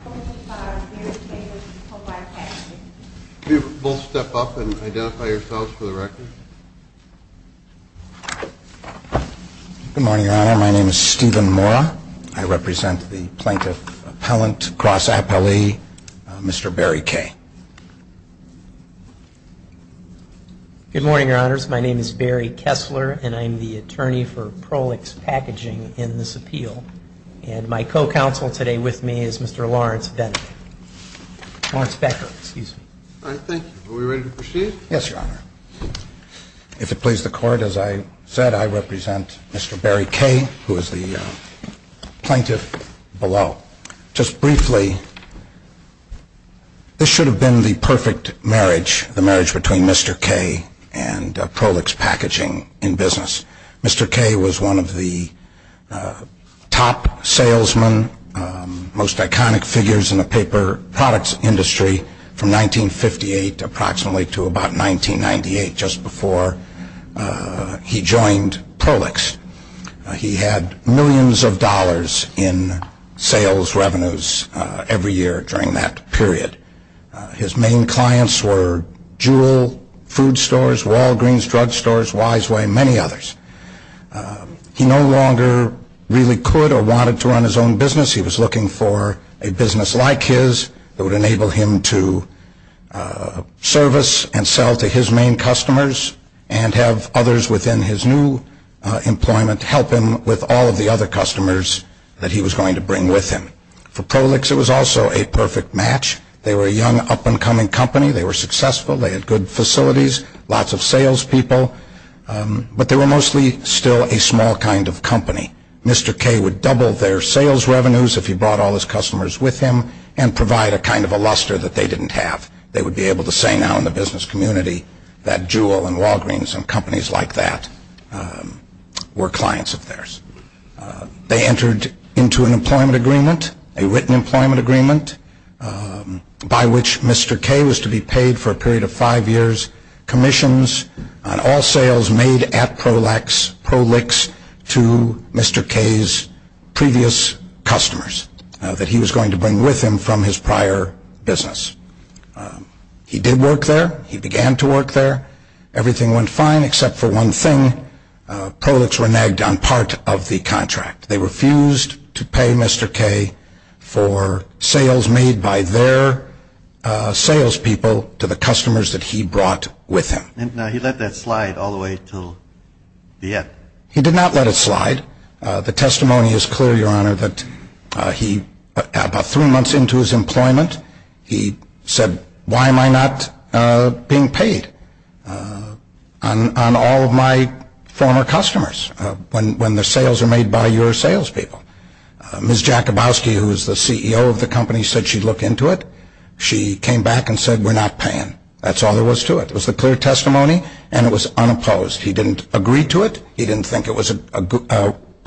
Good morning your honors, my name is Barry Kessler and I'm the attorney for Prolix Packaging in this appeal and my co-counsel today with me is Mr. Lawrence Becker Thank you, are we ready to proceed? Yes your honor, if it please the court as I said I represent Mr. Barry K. who is the plaintiff below Just briefly, this should have been the perfect marriage, the marriage between Mr. K. and Prolix Packaging in business Mr. K. was one of the top salesmen, most iconic figures in the paper products industry from 1958 approximately to about 1998 just before he joined Prolix, he had millions of dollars in sales revenues every year during that period his main clients were Juul, food stores, Walgreens, drug stores, Wiseway and many others he no longer really could or wanted to run his own business, he was looking for a business like his that would enable him to service and sell to his main customers and have others within his new employment help him with all of the other customers that he was going to bring with him For Prolix it was also a perfect match, they were a young up and coming company, they were successful, they had good facilities, lots of sales people but they were mostly still a small kind of company, Mr. K. would double their sales revenues if he brought all his customers with him and provide a kind of a luster that they didn't have, they would be able to say now in the business community that Juul and Walgreens and companies like that were clients of theirs they entered into an employment agreement, a written employment agreement by which Mr. K. was to be paid for a period of five years commissions on all sales made at Prolix to Mr. K.'s previous customers that he was going to bring with him from his prior business He did work there, he began to work there, everything went fine except for one thing, Prolix were nagged on part of the contract they refused to pay Mr. K. for sales made by their sales people to the customers that he brought with him And he let that slide all the way to the end? He did not let it slide, the testimony is clear Your Honor that about three months into his employment he said why am I not being paid on all of my former customers when the sales are made by your sales people Ms. Jakubowski who is the CEO of the company said she'd look into it, she came back and said we're not paying that's all there was to it, it was the clear testimony and it was unopposed, he didn't agree to it he didn't think it was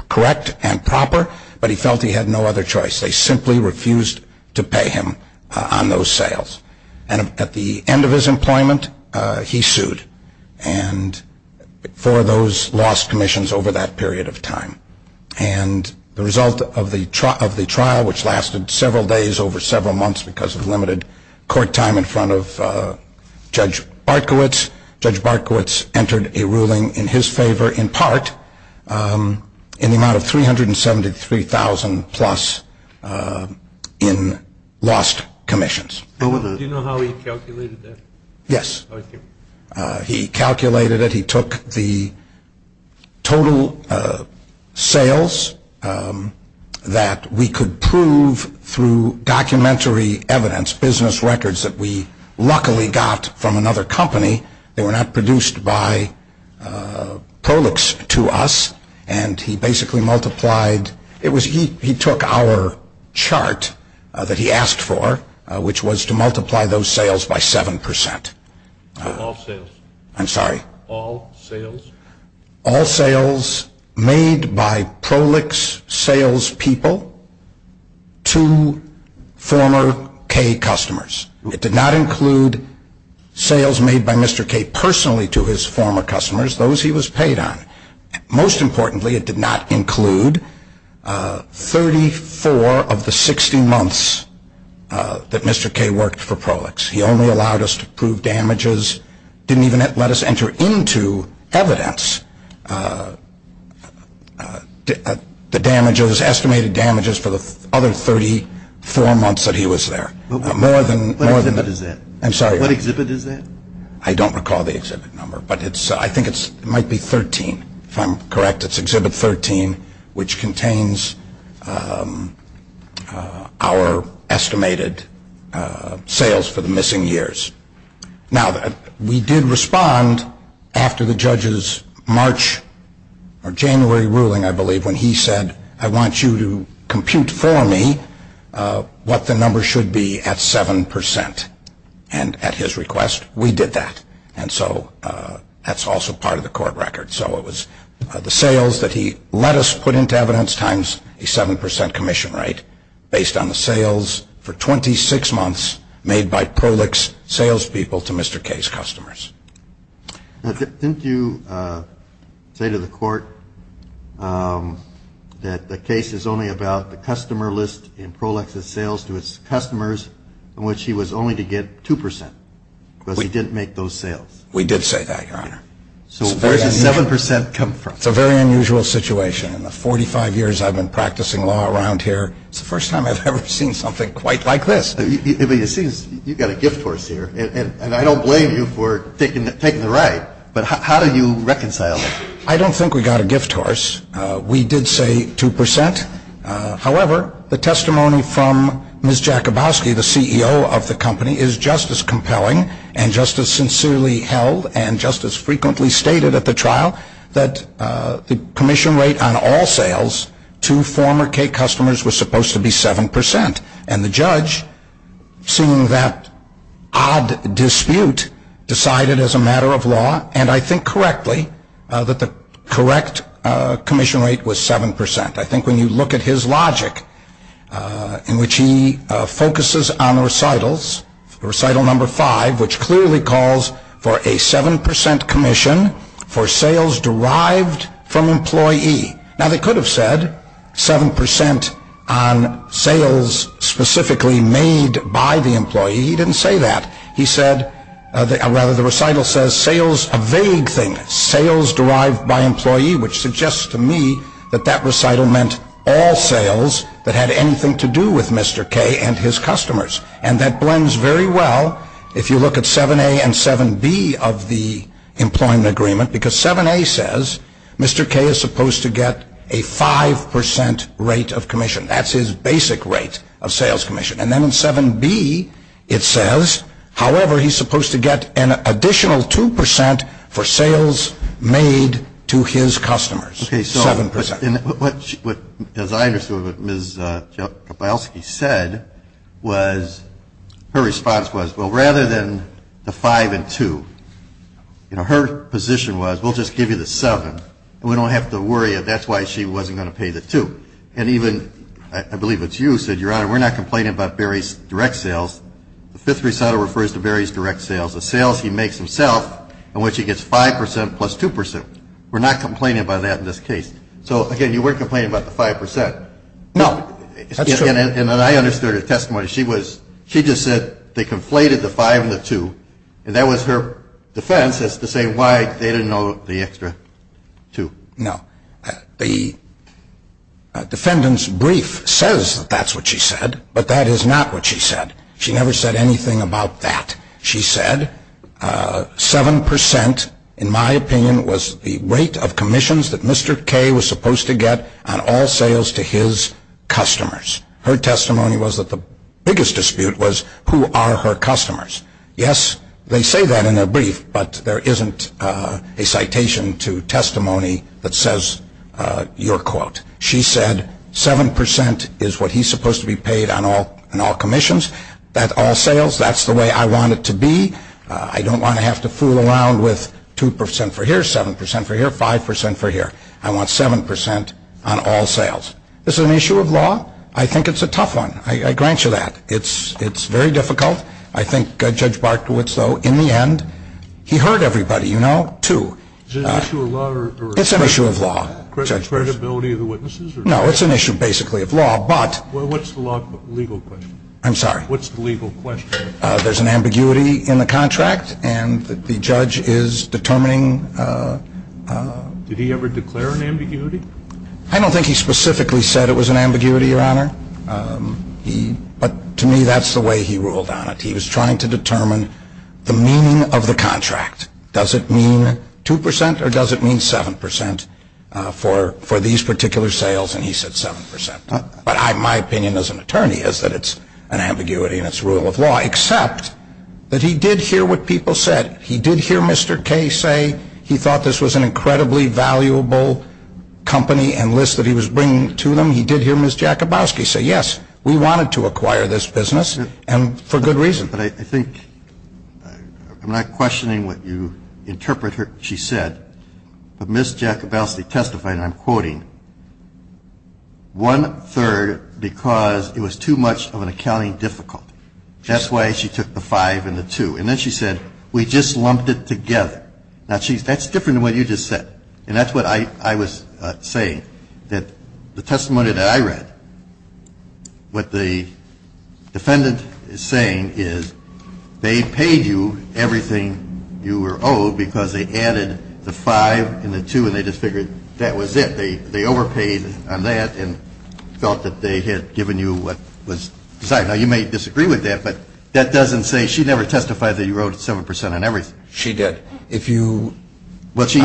correct and proper but he felt he had no other choice they simply refused to pay him on those sales and at the end of his employment he sued for those lost commissions over that period of time and the result of the trial which lasted several days over several months because of limited court time in front of Judge Barkowitz Judge Barkowitz entered a ruling in his favor in part in the amount of $373,000 plus in lost commissions Do you know how he calculated that? Yes, he calculated it, he took the total sales that we could prove through documentary evidence business records that we luckily got from another company that were not produced by Prolix to us and he basically multiplied, he took our chart that he asked for which was to multiply those sales by 7% All sales? I'm sorry All sales? All sales made by Prolix sales people to former Kay customers it did not include sales made by Mr. Kay personally to his former customers, those he was paid on most importantly it did not include 34 of the 60 months that Mr. Kay worked for Prolix he only allowed us to prove damages, didn't even let us enter into evidence the damages, estimated damages for the other 34 months that he was there What exhibit is that? I'm sorry What exhibit is that? I don't recall the exhibit number but I think it might be 13 if I'm correct it's exhibit 13 which contains our estimated sales for the missing years now we did respond after the judge's March or January ruling I believe when he said I want you to compute for me what the number should be at 7% and at his request we did that and so that's also part of the court record so it was the sales that he let us put into evidence times a 7% commission rate based on the sales for 26 months made by Prolix sales people to Mr. Kay's customers Didn't you say to the court that the case is only about the customer list in Prolix's sales to his customers in which he was only to get 2% because he didn't make those sales We did say that your honor So where did 7% come from? It's a very unusual situation in the 45 years I've been practicing law around here it's the first time I've ever seen something quite like this You've got a gift horse here and I don't blame you for taking the right but how do you reconcile that? I don't think we got a gift horse we did say 2% however the testimony from Ms. Jakubowski, the CEO of the company is just as compelling and just as sincerely held and just as frequently stated at the trial that the commission rate on all sales to former Kay customers was supposed to be 7% and the judge, seeing that odd dispute, decided as a matter of law and I think correctly, that the correct commission rate was 7% I think when you look at his logic in which he focuses on recitals recital number 5, which clearly calls for a 7% commission for sales derived from employee now they could have said 7% on sales specifically made by the employee he didn't say that the recital says sales, a vague thing sales derived by employee which suggests to me that that recital meant all sales that had anything to do with Mr. Kay and his customers and that blends very well if you look at 7A and 7B of the employment agreement because 7A says Mr. Kay is supposed to get a 5% rate of commission that's his basic rate of sales commission and then in 7B it says however he's supposed to get an additional 2% for sales made to his customers 7% as I understood what Ms. Jakubowski said was, her response was, well rather than the 5 and 2 her position was, we'll just give you the 7 and we don't have to worry if that's why she wasn't going to pay the 2 and even, I believe it's you who said your honor, we're not complaining about Barry's direct sales the fifth recital refers to Barry's direct sales the sales he makes himself in which he gets 5% plus 2% we're not complaining about that in this case so again, you weren't complaining about the 5% no and I understood her testimony she just said they conflated the 5 and the 2 and that was her defense as to saying why they didn't owe the extra 2 no the defendant's brief says that's what she said but that is not what she said she never said anything about that she said, 7% in my opinion was the rate of commissions that Mr. Kay was supposed to get on all sales to his customers her testimony was that the biggest dispute was who are her customers yes, they say that in their brief but there isn't a citation to testimony that says your quote she said 7% is what he's supposed to be paid on all commissions at all sales that's the way I want it to be I don't want to have to fool around with 2% for here, 7% for here, 5% for here I want 7% on all sales this is an issue of law I think it's a tough one I grant you that it's very difficult I think Judge Barkowitz though, in the end he heard everybody, you know, 2 is it an issue of law? it's an issue of law credibility of the witnesses? no, it's an issue basically of law, but what's the legal question? I'm sorry what's the legal question? there's an ambiguity in the contract and the judge is determining did he ever declare an ambiguity? I don't think he specifically said it was an ambiguity, your honor but to me that's the way he ruled on it he was trying to determine the meaning of the contract does it mean 2% or does it mean 7% for these particular sales and he said 7% but my opinion as an attorney is that it's an ambiguity and it's a rule of law except that he did hear what people said he did hear Mr. Kaye say he thought this was an incredibly valuable company and list that he was bringing to them he did hear Ms. Jakubowski say yes we wanted to acquire this business and for good reason but I think I'm not questioning what you interpret what she said but Ms. Jakubowski testified and I'm quoting one third because it was too much of an accounting difficulty that's why she took the 5 and the 2 and then she said we just lumped it together now that's different than what you just said and that's what I was saying that the testimony that I read what the defendant is saying is they paid you everything you were owed because they added the 5 and the 2 and they just figured that was it they overpaid on that and felt that they had given you what was sorry now you may disagree with that but that doesn't say she never testified that you wrote 7% on everything she did if you what she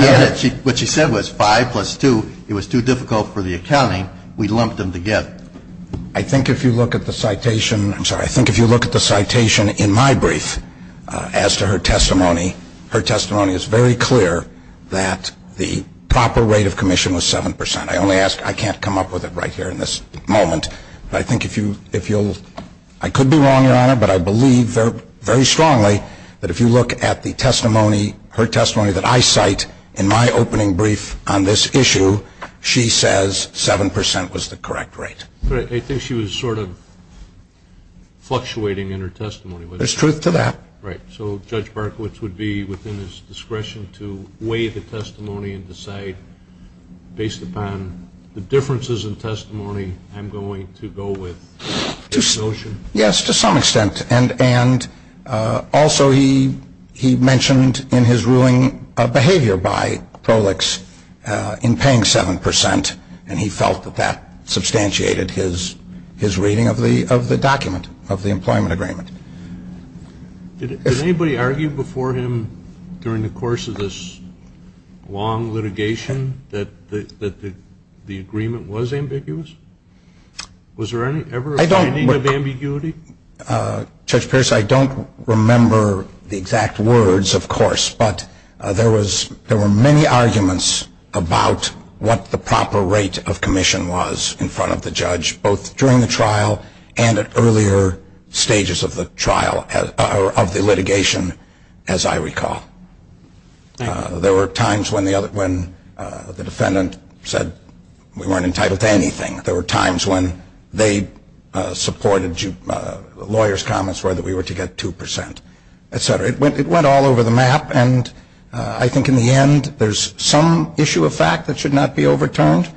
said was 5 plus 2 it was too difficult for the accounting we lumped them together I think if you look at the citation I'm sorry I think if you look at the citation in my brief as to her testimony her testimony is very clear that the proper rate of commission was 7% I only ask I can't come up with it right here in this moment but I think if you I could be wrong your honor but I believe very strongly that if you look at the testimony her testimony that I cite in my opening brief on this issue she says 7% was the correct rate I think she was sort of fluctuating in her testimony there's truth to that right so Judge Berkowitz would be within his discretion to weigh the testimony and decide based upon the differences in testimony I'm going to go with this notion yes to some extent and also he he mentioned in his ruling a behavior by Prolix in paying 7% and he felt that that substantiated his his reading of the document of the employment agreement did anybody argue before him during the course of this long litigation that the agreement was ambiguous was there ever any ambiguity Judge Pierce I don't remember the exact words of course but there was there were many arguments about what the proper rate of commission was in front of the judge both during the trial and at earlier stages of the trial of the litigation as I recall there were times when the other when the defendant said we weren't entitled to anything there were times when they supported lawyers comments whether we were to get 2% etc. it went all over the map and I think in the end there's some issue of fact that should not be overturned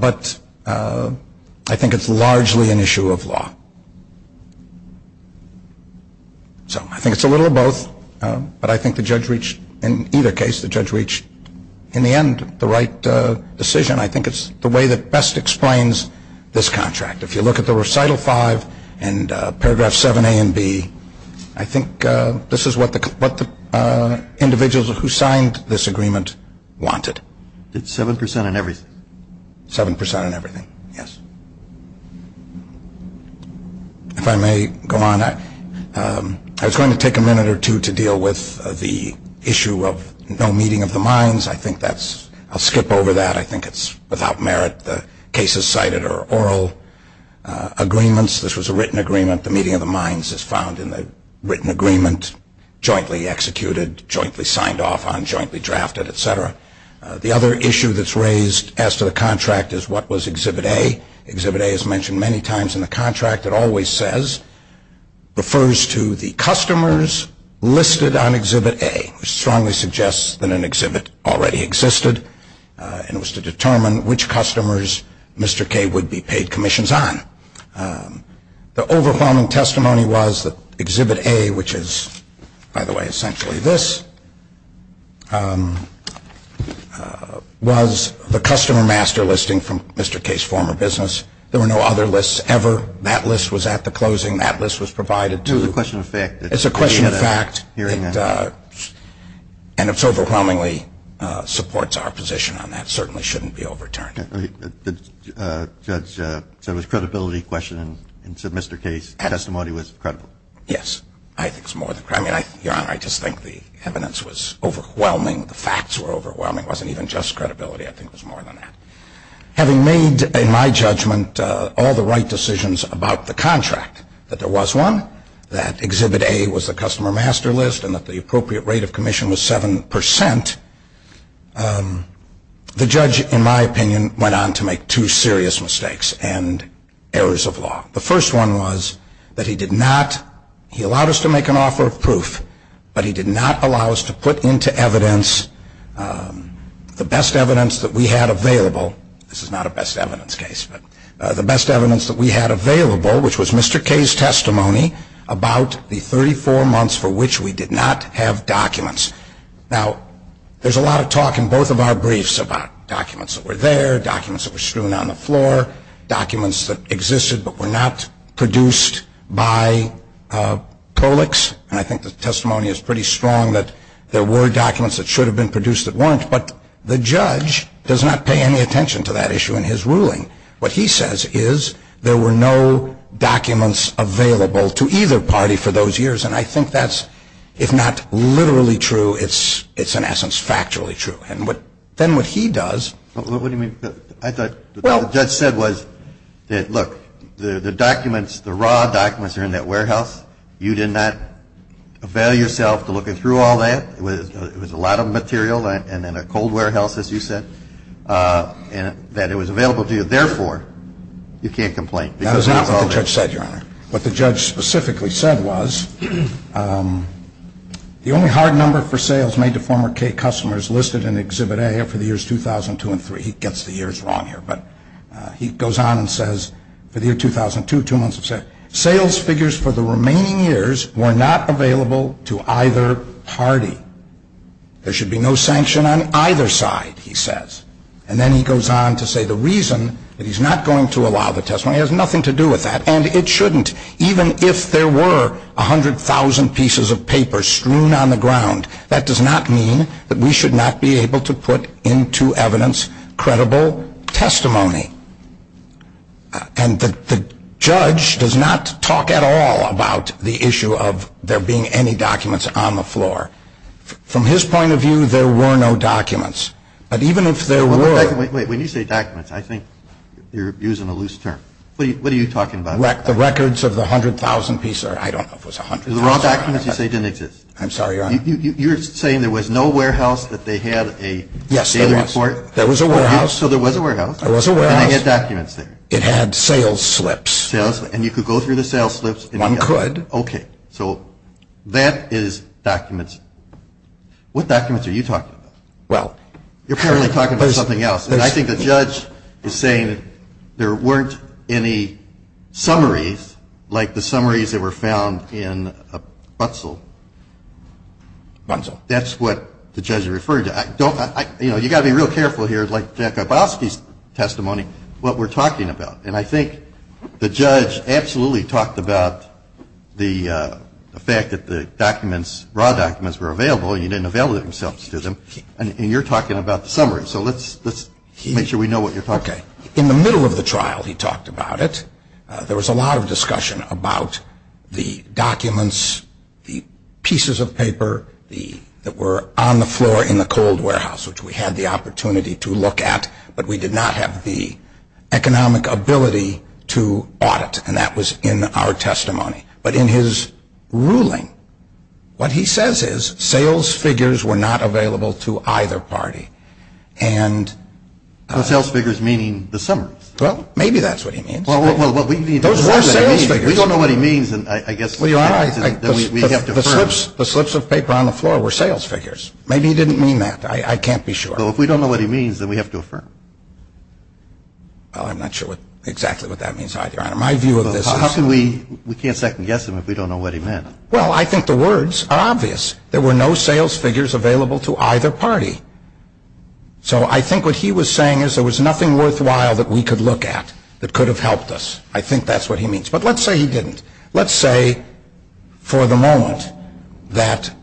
but I think it's largely an issue of law so I think it's a little of both but I think the judge reached in either case the judge reached in the end the right decision I think it's the way that best explains this contract if you look at the recital 5 and paragraph 7a and b I think this is what what the individuals who signed this agreement wanted it's 7% in everything 7% in everything yes if I may go on I was going to take a minute or two to deal with the issue of no meeting of the minds I think that's I'll skip over that I think it's without merit the cases cited are oral agreements this was a written agreement the meeting of the minds is found in the written agreement jointly executed jointly signed off on jointly drafted etc. the other issue that's raised as to the contract is what was exhibit A exhibit A is mentioned many times in the contract it always says refers to the customers listed on exhibit A which strongly suggests that an exhibit already existed and was to determine which customers Mr. K would be paid commissions on the overwhelming testimony was that exhibit A which is by the way essentially this was the customer master listing from Mr. K's former business there were no other lists ever that list was at the closing that list was provided to it's a question of fact and it overwhelmingly supports our position on that certainly shouldn't be overturned so it was a credibility question and Mr. K's testimony was credible yes your honor I just think the evidence was overwhelming the facts were overwhelming it wasn't even just credibility I think it was more than that having made in my judgment all the right decisions about the contract that there was one that exhibit A was the customer master list and that the appropriate rate of commission was 7% the judge in my opinion went on to make two serious mistakes and errors of law the first one was that he did not he allowed us to make an offer of proof but he did not allow us to put into evidence the best evidence that we had available this is not a best evidence case but the best evidence that we had available which was Mr. K's testimony about the 34 months for which we did not have documents now there's a lot of talk in both of our briefs about documents that were there documents that were strewn on the floor documents that existed but were not produced by prolecs and I think the testimony is pretty strong that there were documents that should have been produced at once but the judge does not pay any attention to that issue in his ruling what he says is there were no documents available to either party for those years and I think that's if not literally true it's in essence factually true then what he does I thought what the judge said was the documents the raw documents are in that warehouse you did not avail yourself to look through all that it was a lot of material and in a cold warehouse as you said that it was available to you therefore you can't complain what the judge specifically said was the only hard number for former K customers listed in the exhibit I have for the years 2002 and 2003 he gets the years wrong here but he goes on and says for the year 2002 sales figures for the remaining years were not available to either party there should be no sanction on either side he says and then he goes on to say the reason that he's not going to allow the testimony has nothing to do with that and it shouldn't even if there were 100,000 pieces of paper strewn on the ground that does not mean that we should not be able to put into evidence credible testimony and the judge does not talk at all about the issue of there being any documents on the floor from his point of view there were no documents and even if there were I think you're using a loose term what are you talking about the records of the hundred thousand pieces I'm sorry your honor you're saying there was no warehouse that they had a there was a warehouse and they had documents there it had sales slips and you could go through the sales slips one could that is documents what documents are you talking about you're apparently talking about something else and I think the judge is saying there weren't any summaries like the one found in a bunzel that's what the judge is referring to you've got to be real careful here like Jeff Grabowski's testimony what we're talking about and I think the judge absolutely talked about the fact that the documents raw documents were available and he didn't avail himself of them and you're talking about the summary so let's make sure we know what you're talking about in the middle of the trial he talked about it there was a lot of discussion about the documents the pieces of paper that were on the floor in the cold warehouse which we had the opportunity to look at but we did not have the economic ability to audit and that was in our testimony but in his ruling what he says is sales figures were not available to either party and sales figures meaning the summary well maybe that's what he means those were sales figures we don't know what he means the slips of paper on the floor were sales figures maybe he didn't mean that I can't be sure so if we don't know what he means then we have to affirm well I'm not sure exactly what that means either we can't second guess him if we don't know what he meant well I think the words are obvious there were no sales figures available to either party so I think what he was saying is there was nothing worthwhile that we could look at that could have helped us I think that's what he means but let's say he didn't let's say for the moment that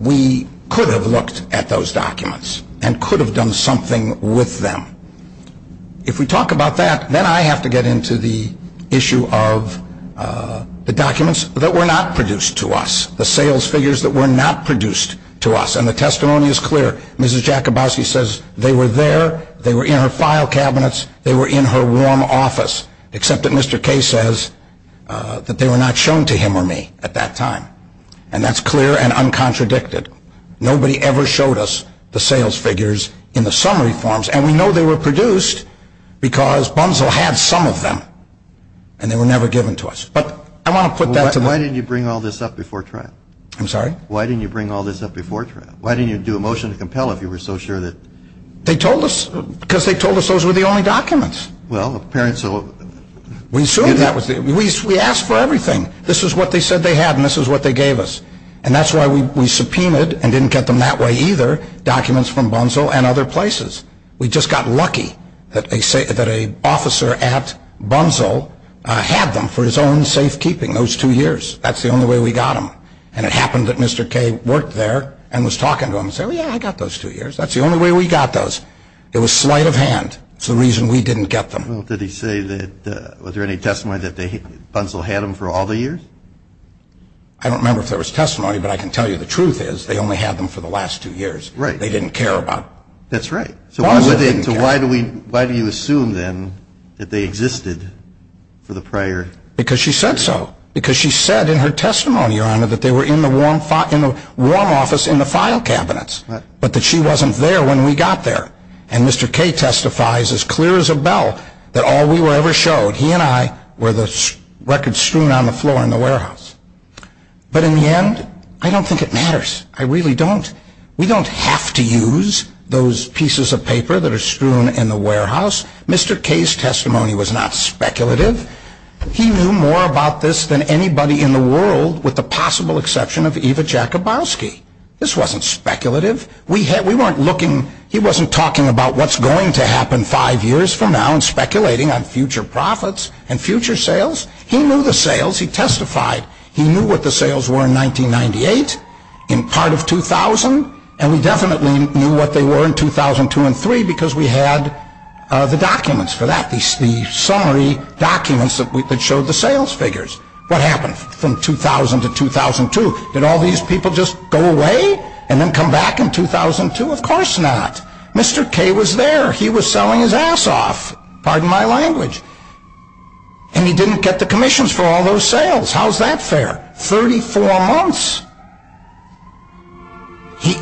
we could have looked at those documents and could have done something with them if we talk about that then I have to get into the issue of the documents that were not produced to us the sales figures that were not produced to us and the testimony is clear Mrs. Jakubowski says they were there they were in her file cabinets they were in her warm office except that Mr. Kaye says that they were not shown to him or me at that time and that's clear and uncontradicted nobody ever showed us the sales figures in the summary forms and we know they were produced because Bunzel had some of them and they were never given to us Why didn't you bring all this up before trial? I'm sorry? Why didn't you bring all this up before trial? Why didn't you do a motion to compel if you were so sure that They told us because they told us those were the only documents Well, apparently so We assumed that, we asked for everything this is what they said they had and this is what they gave us and that's why we subpoenaed and didn't get them that way either documents from Bunzel and other places we just got lucky that an officer at Bunzel had them for his own safe keeping those two years that's the only way we got them and it happened that Mr. Kaye worked there and was talking to him and said, yeah, I got those two years that's the only way we got those it was sleight of hand, that's the reason we didn't get them Did he say that was there any testimony that Bunzel had them for all the years? I don't remember if there was testimony but I can tell you the truth is they only had them for the last two years they didn't care about them That's right, so why do you assume then that they existed for the prior because she said so because she said in her testimony your honor that they were in the warm office in the file cabinets but that she wasn't there when we got there and Mr. Kaye testifies as clear as a bell that all we were ever showed he and I were the records strewn on the floor in the warehouse but in the end I don't think it matters, I really don't we don't have to use those pieces of paper that are strewn in the warehouse, Mr. Kaye's testimony was not speculative he knew more about this than anybody in the world with the possible exception of Eva Jakabowski this wasn't speculative we weren't looking, he wasn't talking about what's going to happen five years from now and speculating on future profits and future sales he knew the sales, he testified he knew what the sales were in 1998 in part of 2000 and we definitely knew what they were in 2002 and 3 because we had the documents for that the summary documents that showed the sales figures what happened from 2000 to 2002 did all these people just go away and then come back in 2002 of course not, Mr. Kaye was there he was selling his ass off pardon my language and he didn't get the commissions for all those sales, how's that fair 34 months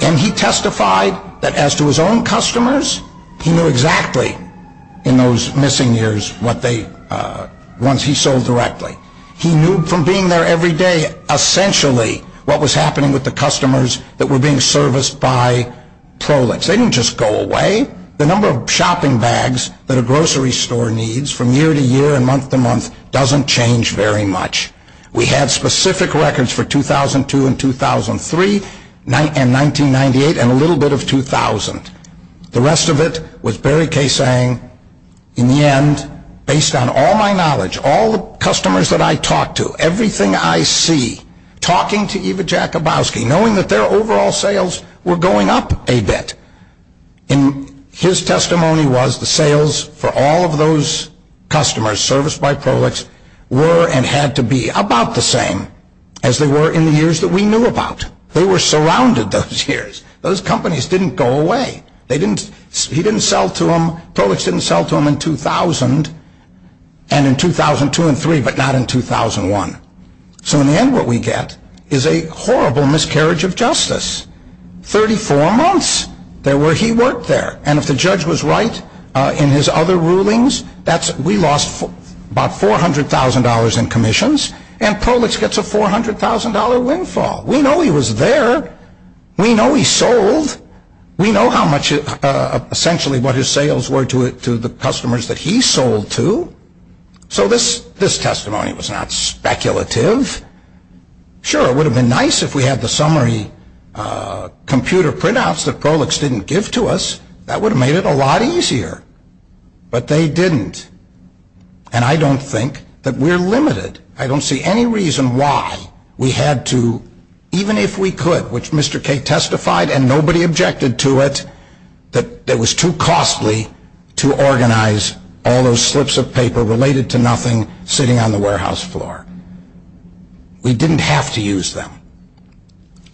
and he testified that as to his own customers he knew exactly in those missing years once he sold directly he knew from being there every day essentially what was happening with the customers that were being serviced by Prolix they didn't just go away the number of shopping bags that a grocery store needs from year to year and month to month doesn't change very much we had specific records for 2002 and 2003 and 1998 and a little bit of 2000 the rest of it was Barry Kaye saying in the end, based on all my knowledge, all the customers that I talked to, everything I see talking to Eva Jakabowski knowing that their overall sales were going up a bit and his testimony was the sales for all of those customers serviced by Prolix were and had to be about the same as they were in the years that we knew about they were surrounded those years those companies didn't go away he didn't sell to them Prolix didn't sell to them in 2000 and in 2002 and 2003 but not in 2001 so in the end what we get is a horrible miscarriage of justice 34 months where he worked there and if the judge was right in his other rulings, we lost about $400,000 in commissions and Prolix gets a $400,000 windfall, we know he was there we know he sold we know how much essentially what his sales were to the customers that he sold to so this testimony was not speculative sure it would have been nice if we had the summary computer printouts that Prolix didn't give to us, that would have made it a lot easier but they didn't and I don't think that we're limited, I don't see any reason why we had to even if we could which Mr. Kay testified and nobody objected to it that it was too costly to organize all those slips of paper related to nothing sitting on the warehouse floor we didn't have to use them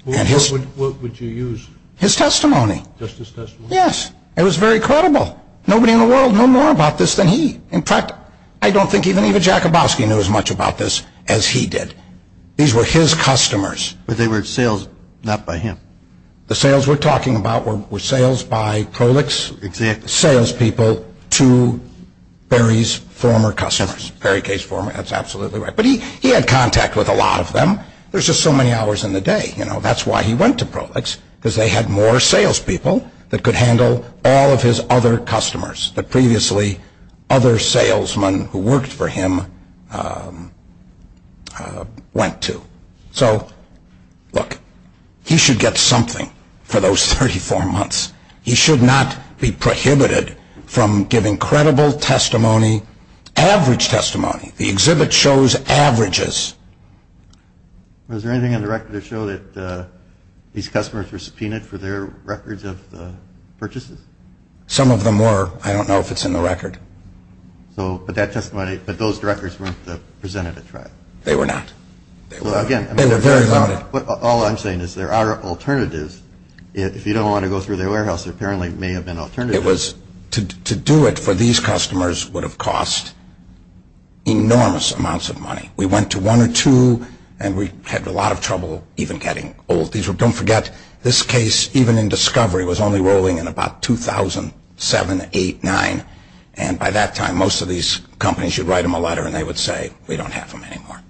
what would you use? his testimony it was very credible nobody in the world knew more about this than he in fact I don't think even Jacobowski knew as much about this as he did, these were his customers, but they were sales not by him, the sales we're talking about were sales by Prolix sales people to Barry's former customers, Barry Kay's former that's absolutely right, but he had contact with a lot of them, there's just so many hours in the day that's why he went to Prolix because they had more sales people that could handle all of his other customers, the previously other salesmen who worked for him went to so, look he should get something for those 34 months he should not be prohibited from giving credible testimony average testimony the exhibit shows averages was there anything in the record that showed that these customers were subpoenaed for their records of purchases? some of them were I don't know if it's in the record but those records weren't presented at trial? they were not all I'm saying is there are alternatives if you don't want to go through the warehouse there apparently may have been alternatives to do it for these customers would have cost enormous amounts of money we went to one or two and we had a lot of trouble even getting old don't forget this case even in discovery was only rolling in about 2007 8, 9 and by that time most of these companies would write them a letter and they would say we don't have them anymore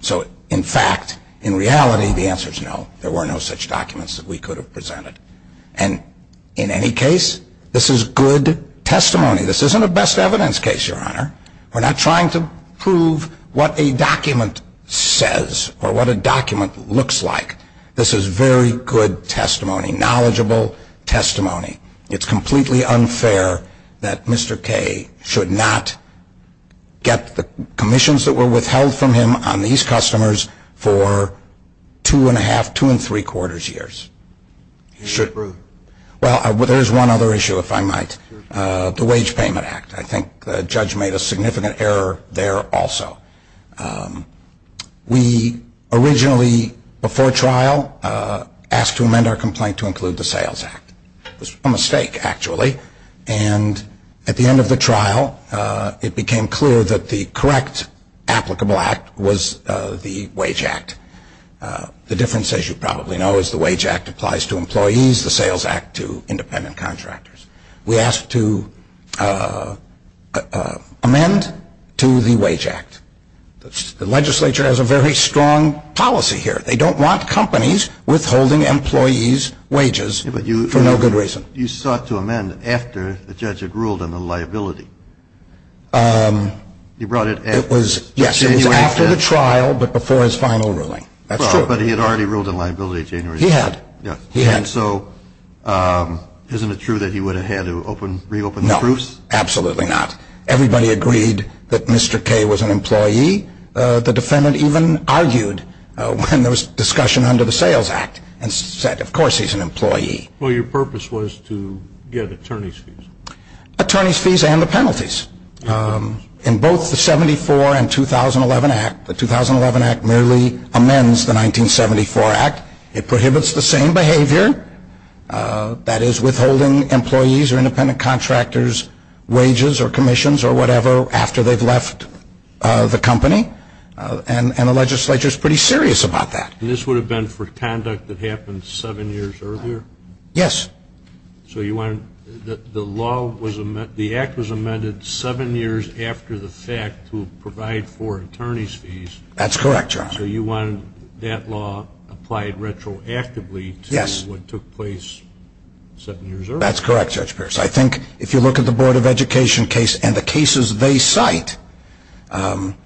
so in fact in reality the answer is no, there were no such documents that we could have presented and in any case this is good testimony this isn't a best evidence case your honor we're not trying to prove what a document says or what a document looks like this is very good testimony knowledgeable testimony it's completely unfair that Mr. Kay should not get the commissions that were withheld from him on these customers for two and a half, two and three quarters years well there's one other issue if I might, the wage payment act, I think the judge made a significant error there also we originally before trial asked to amend our complaint to include the sales act it was a mistake actually and at the end of the trial it became clear that the correct applicable act was the wage act the difference as you probably know is the wage act applies to employees the sales act to independent contractors we asked to amend to the wage act the legislature has a very strong policy here, they don't want companies withholding employees wages for no good reason you sought to amend it after the judge had ruled on the liability he brought it after the trial but before his final ruling but he had already ruled on liability he had isn't it true that he would have had to reopen the proofs? absolutely not, everybody agreed that Mr. Kay was an employee the defendant even argued when there was discussion under the sales act and said of course he's an employee your purpose was to get attorney's fees attorney's fees and the penalties in both the 74 and 2011 act the 2011 act merely amends the 1974 act it prohibits the same behavior that is withholding employees or independent contractors wages or commissions or whatever after they've left the company and the legislature is pretty serious about that this would have been for conduct that happened seven years earlier? yes so the law was the act was amended seven years after the fact to provide for attorney's fees? that's correct so you wanted that law applied retroactively to what took place seven years earlier? that's correct Judge Pierce I think if you look at the board of education case and the cases they cite that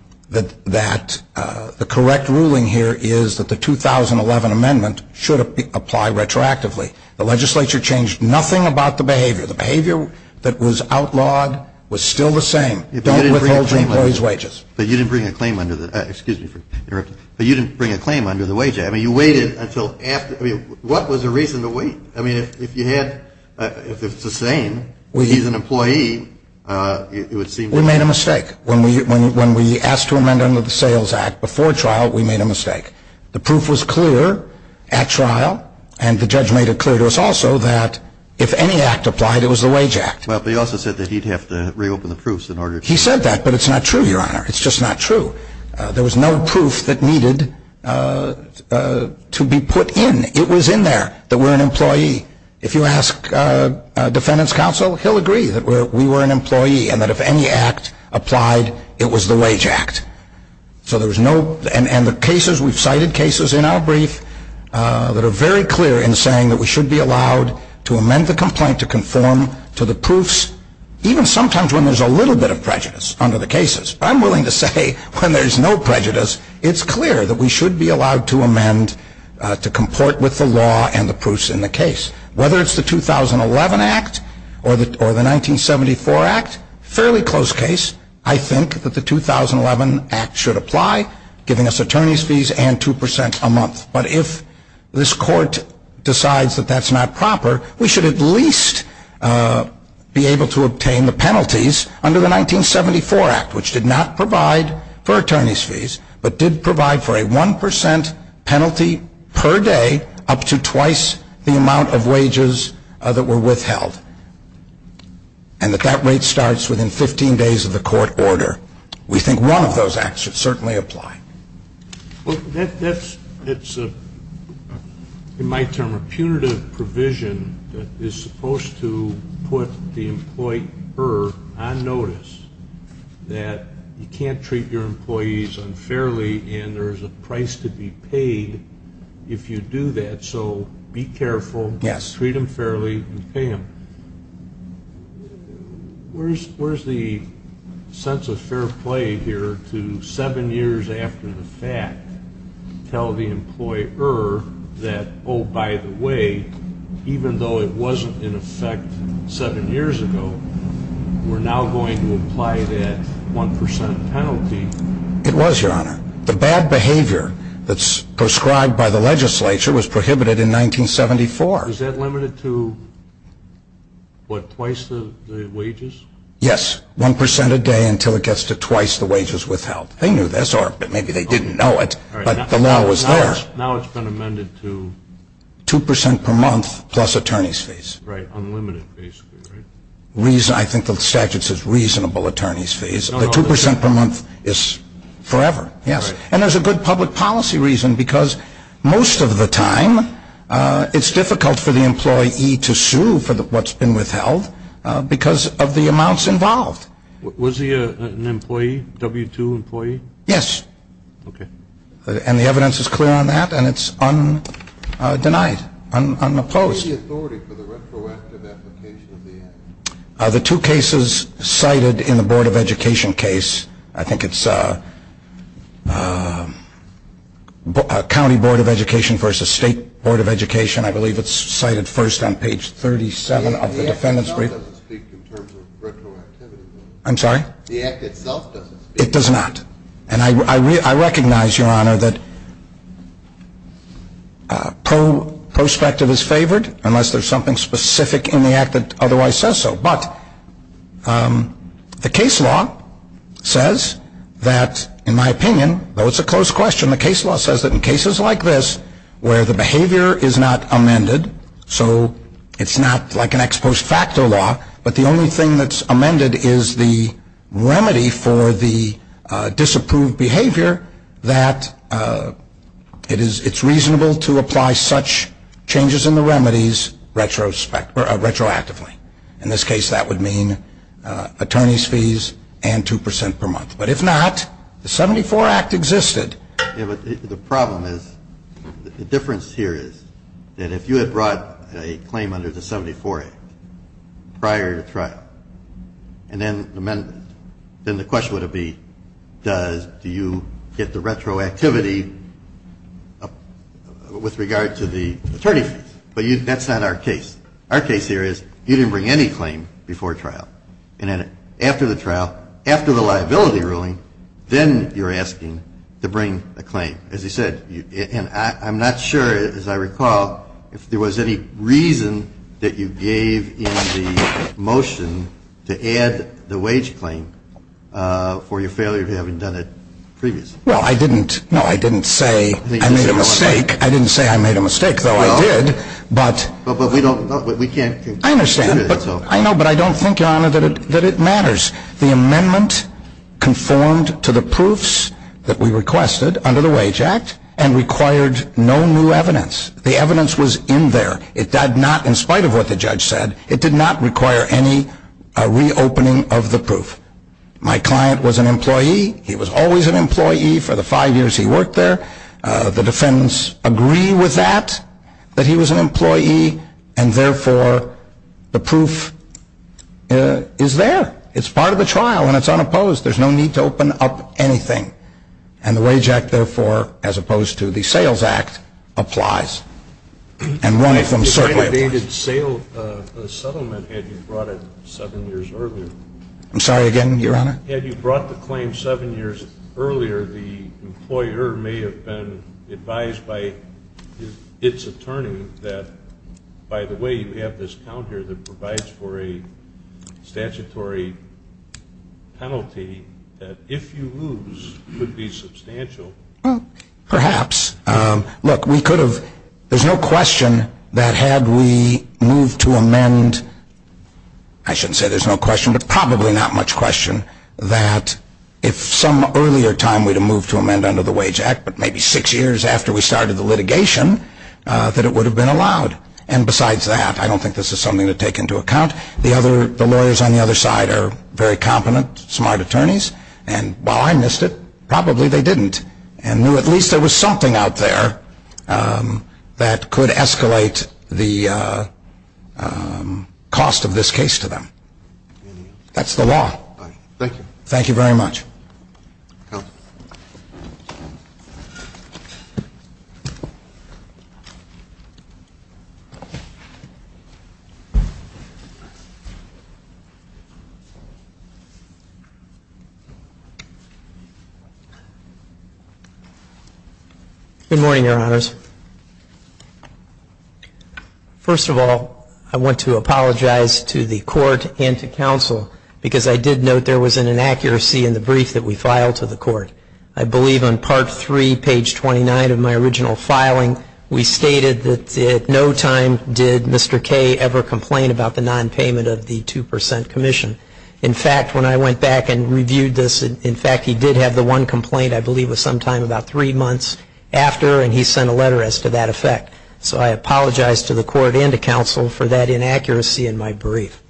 the correct ruling here is that the 2011 amendment should apply retroactively the legislature changed nothing about the behavior the behavior that was outlawed was still the same don't withhold employees wages but you didn't bring a claim under the wage act you waited until after what was the reason to wait? if it's the same he's an employee we made a mistake when we asked to amend the sales act before trial we made a mistake the proof was clear at trial and the judge made it clear to us also that if any act applied it was the wage act but he also said that he'd have to reopen the proofs he said that but it's not true your honor it's just not true there was no proof that needed to be put in it was in there that we're an employee if you ask defendant's counsel he'll agree that we were an employee and that if any act applied it was the wage act and the cases we've cited cases in our brief that are very clear in saying that we should be allowed to amend the complaint to conform to the proofs even sometimes when there's a little bit of prejudice under the cases I'm willing to say when there's no prejudice it's clear that we should be allowed to amend to comport with the law and the proofs in the case whether it's the 2011 act or the 1974 act fairly close case I think that the 2011 act should apply giving us attorney's fees and 2% a month but if this court decides that that's not proper we should at least be able to obtain the penalties under the 1974 act which did not provide for attorney's fees but did provide for a 1% penalty per day up to twice the amount of wages that were withheld and that that rate starts within 15 days of the court order we think one of those acts should certainly apply it's a in my term a punitive provision that is supposed to put the employer on notice that you can't treat your employees unfairly and there's a price to be paid if you do that so be careful treat them fairly and pay them where's where's the sense of fair play here to 7 years after the fact tell the employer that oh by the way even though it wasn't in effect 7 years ago we're now going to apply that 1% penalty it was your honor the bad behavior that's prescribed by the legislature was prohibited in 1974 was that limited to what twice the wages yes 1% a day until it gets to twice the wages withheld they knew this or maybe they didn't know it but the law was there now it's been amended to 2% per month plus attorney's fees I think the statute says reasonable attorney's fees 2% per month is forever and there's a good public policy reason because most of the time it's difficult for the employee to sue for what's been withheld because of the amounts involved was he an employee W2 employee? yes and the evidence is clear on that and it's undenied unopposed the two cases cited in the board of education case I think it's county board of education versus state board of education I believe it's cited first on page 37 of the defendant's brief I'm sorry the act itself doesn't speak it does not and I recognize your honor that prospective is favored unless there's something specific in the act that otherwise says so but the case law says that in my opinion though it's a close question the case law says that in cases like this where the behavior is not amended so it's not like an ex post facto law but the only thing that's amended is the remedy for the disapproved behavior that it's reasonable to apply such changes in the remedies retroactively in this case that would mean attorney's fees and 2% per month but if not the 74 act existed the problem is the difference here is that if you had brought a claim under the 74 act prior to threat and then the question would be do you get the retroactivity with regard to the attorney but that's not our case our case here is you didn't bring any claim before trial after the trial after the liability ruling then you're asking to bring a claim as you said and I'm not sure as I recall if there was any reason that you gave in the motion to add the wage claim for your failure if you haven't done it previously well I didn't no I didn't say I made a mistake I didn't say I made a mistake though I did but we can't I understand I know but I don't think your honor that it matters the amendment conformed to the proofs that we requested under the wage act and required no new evidence the evidence was in there it did not in spite of what the judge said it did not require any reopening of the proof my client was an employee he was always an employee for the 5 years he worked there the defendants agree with that that he was an employee and therefore the proof is there it's part of the trial and it's unopposed there's no need to open up anything and the wage act therefore as opposed to the sales act applies and one if I'm certain I'm sorry again your honor had you brought the claim 7 years earlier the employer may have been advised by its attorney that by the way you have this counter that provides for a statutory penalty that if you lose it would be substantial perhaps look we could have there's no question that had we moved to amend I shouldn't say there's no question but probably not much question that if some earlier time we'd have moved to amend under the wage act but maybe 6 years after we started the litigation that it would have been allowed and besides that I don't think this is something to take into account the lawyers on the other side are very competent smart attorneys and well I missed it probably they didn't at least there was something out there that could escalate the cost of this case to them that's the law thank you very much good morning your honors first of all I want to apologize to the court and to counsel because I did note there was an inaccuracy in the brief that we filed to the court I believe on part 3 page 29 of my original filing we stated that at no time did Mr. Kaye ever complain about the non-payment of the 2% commission in fact when I went back and reviewed the in fact he did have the one complaint I believe it was sometime about 3 months after and he sent a letter as to that effect so I apologize to the court and to counsel for that inaccuracy in my brief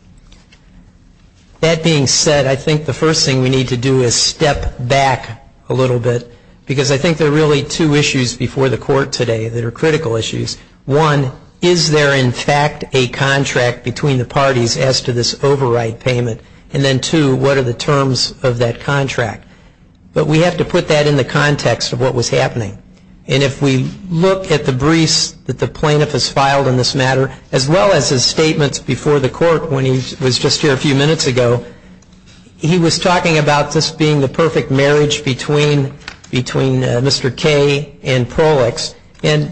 that being said I think the first thing we need to do is step back a little bit because I think there are really 2 issues before the court today that are critical issues one is there in fact a contract between the parties as to this overwrite payment and then 2 what are the terms of that contract but we have to put that in the context of what was happening and if we look at the briefs that the plaintiff has filed on this matter as well as his statements before the court when he was just here a few minutes ago he was talking about this being the perfect marriage between between Mr. Kaye and Perlix and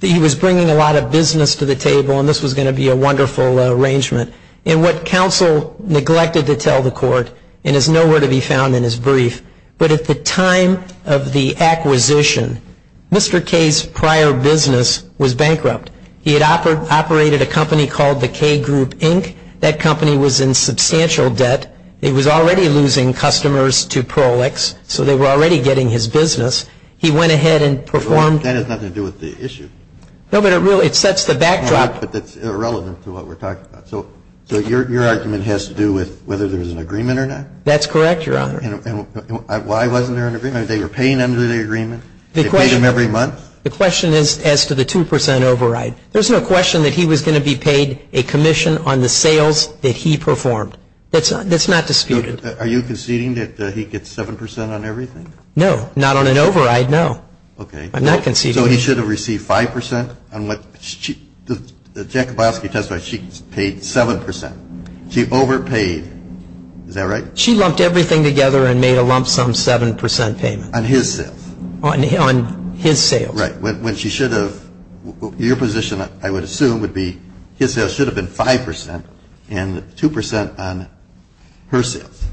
he was bringing a lot of business to the table and this was going to be a wonderful arrangement and what counsel neglected to tell the court and is nowhere to be found in his brief but at the time of the acquisition Mr. Kaye's prior business was bankrupt he had operated a company called the Kaye Group Inc that company was in substantial debt it was already losing customers to Perlix so they were already getting his business he went ahead and performed... That has nothing to do with the issue No but it sets the So your argument has to do with whether there is an agreement or not? That's correct your honor. Why wasn't there an agreement? They were paying them to the agreement? They paid them every month? The question is as to the 2% override. There's no question that he was going to be paid a commission on the sales that he performed. That's not disputed. Are you conceding that he gets 7% on everything? No, not on an override, no. So he should have received 5% on what Jack Kowalski testified she paid 7%. She overpaid. Is that right? She lumped everything together and made a lump sum 7% payment. On his sales. On his sales. Right. When she should have your position I would assume would be his sales should have been 5% and 2% on her sales.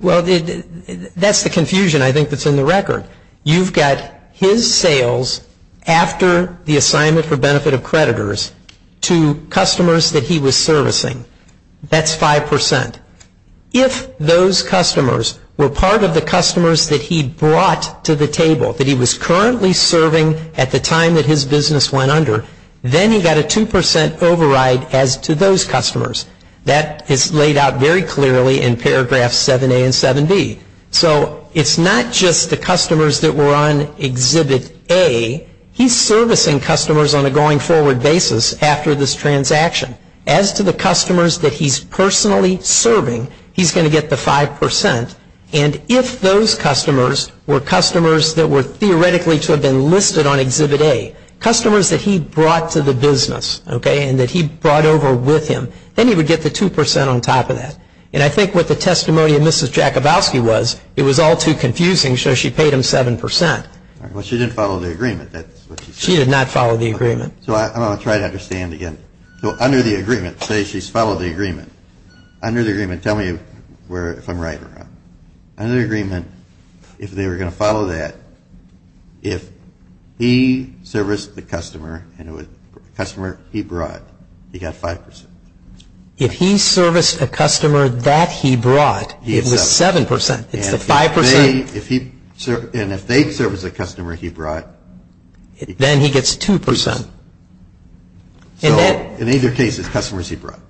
Well that's the confusion I think that's in the record. You've got his sales after the assignment for benefit of creditors to customers that he was servicing. That's 5%. If those customers were part of the customers that he brought to the table, that he was currently serving at the time that his business went under, then he got a 2% override as to those customers. That is laid out very clearly in paragraph 7A and 7B. It's not just the customers that were on exhibit A. He's servicing customers on a going forward basis after this transaction. As to the customers that he's personally serving he's going to get the 5%. If those customers were customers that were theoretically to have been listed on exhibit A, customers that he brought to the business and that he brought over with him, then he would get the 2% on top of that. I think what the testimony of Mrs. Jack Kowalski was, it was all too confusing, so she paid him 7%. She didn't follow the agreement. She did not follow the agreement. I'm going to try to understand again. Under the agreement, say she's followed the agreement. Under the agreement, tell me if I'm right or wrong. Under the agreement, if they were going to follow that, if he serviced the customer and it was a customer he brought, he got 5%. If he serviced a customer that he brought, it was 7%. If they serviced the customer he brought, then he gets 2%. In either case, it's customers he brought.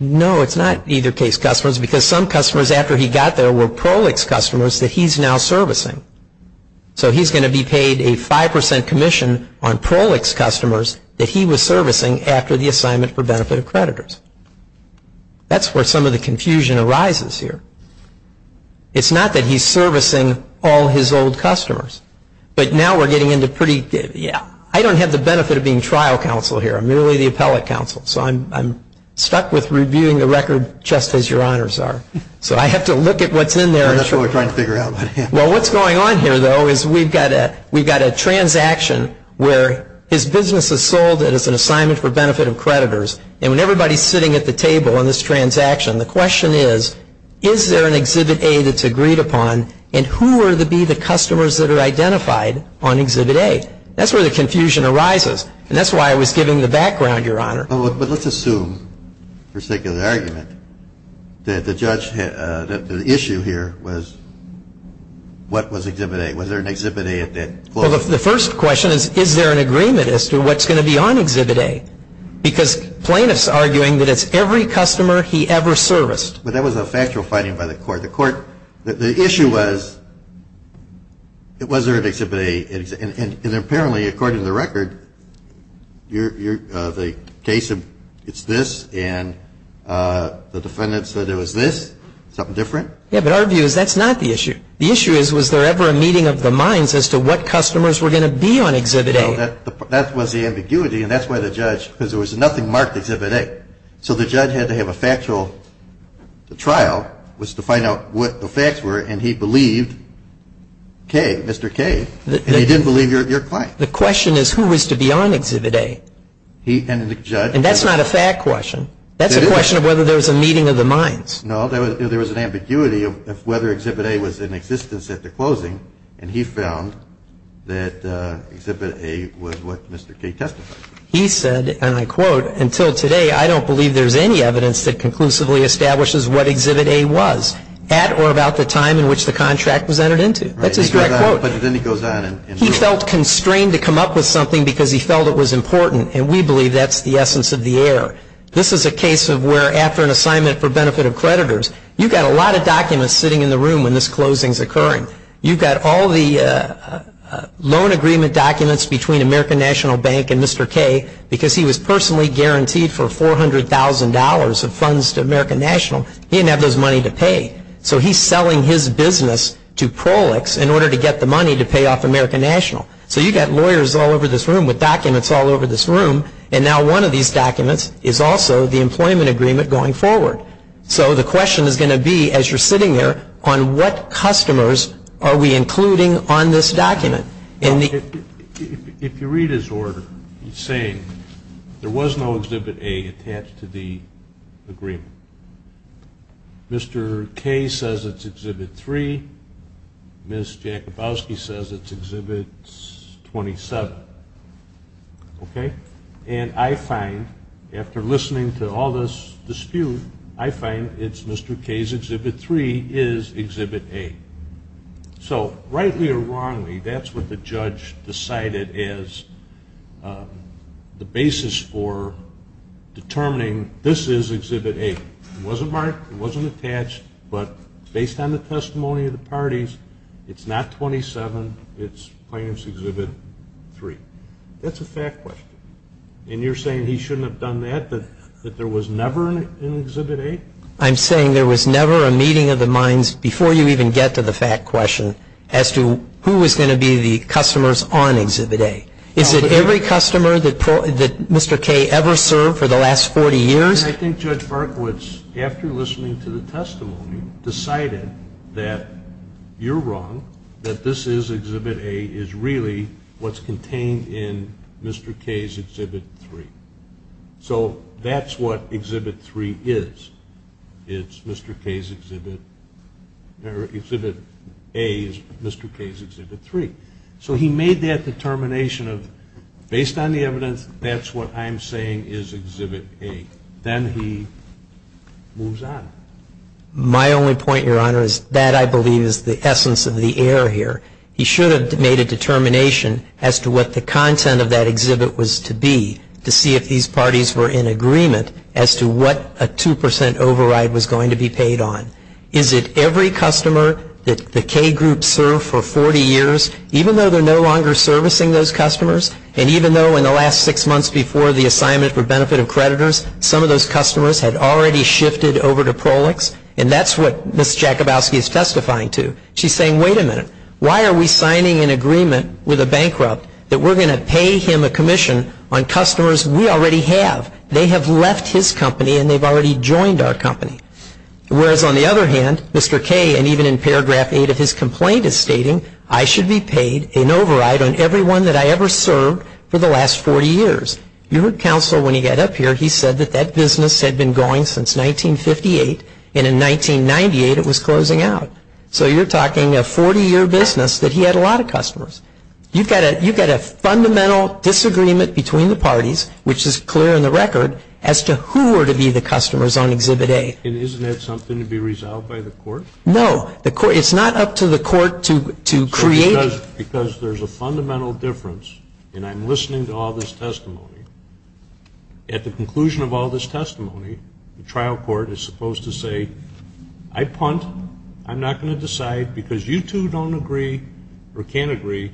No, it's not either case customers because some customers after he got there were Prolix customers that he's now servicing. He's going to be paid a 5% commission on Prolix customers that he was servicing after the assignment for benefit of creditors. That's where some of the confusion arises here. It's not that he's servicing all his old customers, but now we're getting into pretty... I don't have the benefit of being trial counsel here. I'm merely the appellate counsel. I'm stuck with reviewing the record just as your honors are. I have to look at what's in there. That's what we're trying to figure out. What's going on here, though, is we've got a transaction where his business is sold as an assignment for benefit of creditors, and when everybody is sitting at the table on this transaction, the question is, is there an Exhibit A that's agreed upon, and who will be the customers that are identified on Exhibit A? That's where the confusion arises, and that's why I was giving the background, your honor. Let's assume, for sake of an argument, that the issue here was what was Exhibit A? Was there an Exhibit A at that point? The first question is, is there an agreement as to what's going to be on Exhibit A? Because Plaintiff's arguing that it's every customer he ever serviced. But that was a factual finding by the court. The issue was, was there an Exhibit A? And apparently, according to the record, the case is this, and the defendant said it was this. Something different? Yeah, but our view is that's not the issue. The issue is, was there ever a meeting of the minds as to what customers were going to be on Exhibit A? That was the ambiguity, and that's why the judge, because there was nothing marked Exhibit A, so the judge had to have a factual trial, was to find out what the facts were, and he believed Mr. K, and he didn't believe your client. The question is, who was to be on Exhibit A? And the judge... And that's not a fact question. That's a question of whether there was a meeting of the minds. No, there was an ambiguity of whether Exhibit A was in existence at the closing, and he found that Exhibit A was what Mr. K testified. He said, and I quote, until today, I don't believe there's any evidence that conclusively establishes what Exhibit A was, at or about the time in which the contract was entered into. That's his direct quote. Right, but then he goes on and... He felt constrained to come up with something because he felt it was important, and we believe that's the essence of the error. This is a case of where, after an assignment for benefit of creditors, you've got a lot of documents sitting in the room when this closing's occurring. You've got all the loan agreement documents between American National Bank and Mr. K, because he was personally guaranteed for $400,000 of funds to American National, he didn't have those money to pay. So he's selling his business to Prolix in order to get the money to pay off American National. So you've got lawyers all over this room with documents all over this room, and now one of these documents is also the employment agreement going forward. So the question is going to be, as you're sitting there, on what customers are we including on this document? If you read his order, he's saying there was no Exhibit A attached to the agreement. Mr. K says it's Exhibit 3. Ms. Jakubowski says it's Exhibit 27. Okay? And I find, after listening to all this dispute, I find it's Mr. K's Exhibit 3 is Exhibit A. So, rightly or wrongly, that's what the judge decided as the basis for determining this is Exhibit A. It wasn't marked, it wasn't attached, but based on the testimony of the parties, it's not 27, it's plaintiff's Exhibit 3. That's a fact question. And you're saying he shouldn't have done that, that there was never an Exhibit A? I'm saying there was never a meeting of the minds, before you even get to the fact question, as to who was going to be the customers on Exhibit A. Is it every customer that Mr. K ever served for the last 40 years? And I think Judge Hartowitz, after listening to the testimony, decided that you're wrong, that this is Exhibit A is really what's contained in Mr. K's Exhibit 3. So that's what Exhibit 3 is. It's Mr. K's Exhibit... Exhibit A is Mr. K's Exhibit 3. So he made that determination of, based on the evidence, that's what I'm saying is Exhibit A. Then he moves on. My only point, Your Honor, is that, I believe, is the essence of the error here. He should have made a determination as to what the 2% override was going to be paid on. Is it every customer that the K group served for 40 years, even though they're no longer servicing those customers, and even though in the last six months before the assignment for benefit of creditors, some of those customers had already shifted over to Prolix, and that's what Ms. Jakubowski is testifying to. She's saying, wait a minute. Why are we signing an agreement with a bankrupt that we're going to pay him a commission on those customers we already have? They have left his company, and they've already joined our company. Whereas, on the other hand, Mr. K, and even in paragraph 8 of his complaint, is stating, I should be paid an override on everyone that I ever served for the last 40 years. Your counsel, when he got up here, he said that that business had been going since 1958, and in 1998 it was closing out. So you're talking a 40-year business that he had a lot of customers. You've got a fundamental disagreement between the parties, which is clear in the record, as to who were to be the customers on Exhibit A. And isn't that something to be resolved by the court? No. It's not up to the court to create... Because there's a fundamental difference, and I'm listening to all this testimony. At the conclusion of all this testimony, the trial court is supposed to say, I punt. I'm not going to decide, because you two don't agree, or can't agree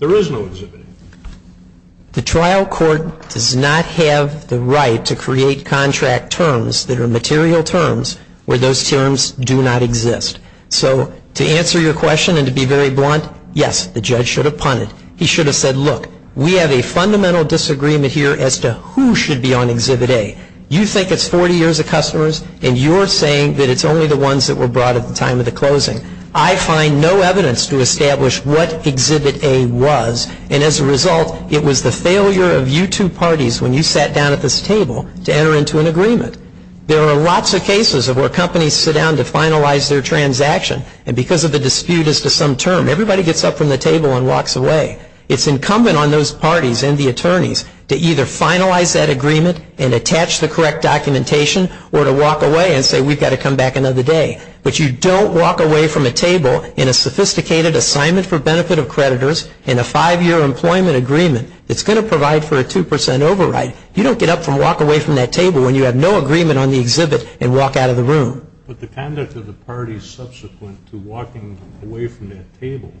on Exhibit A. The trial court does not have the right to create contract terms that are material terms where those terms do not exist. So, to answer your question and to be very blunt, yes, the judge should have punted. He should have said, look, we have a fundamental disagreement here as to who should be on Exhibit A. You think it's 40 years of customers, and you're saying that it's only the ones that were brought at the time of the closing. I find no evidence to establish what Exhibit A was, and as a result, it was the failure of you two parties when you sat down at this table to enter into an agreement. There are lots of cases of where companies sit down to finalize their transaction, and because of the dispute as to some term, everybody gets up from the table and walks away. It's incumbent on those parties and the attorneys to either finalize that agreement and attach the correct documentation, or to walk away and say, we've got to come back another day. But you don't walk away from a table in a sophisticated assignment for benefit of creditors in a five-year employment agreement that's going to provide for a 2% override. You don't get up and walk away from that table when you have no agreement on the exhibit and walk out of the room. But the conduct of the parties subsequent to walking away from that table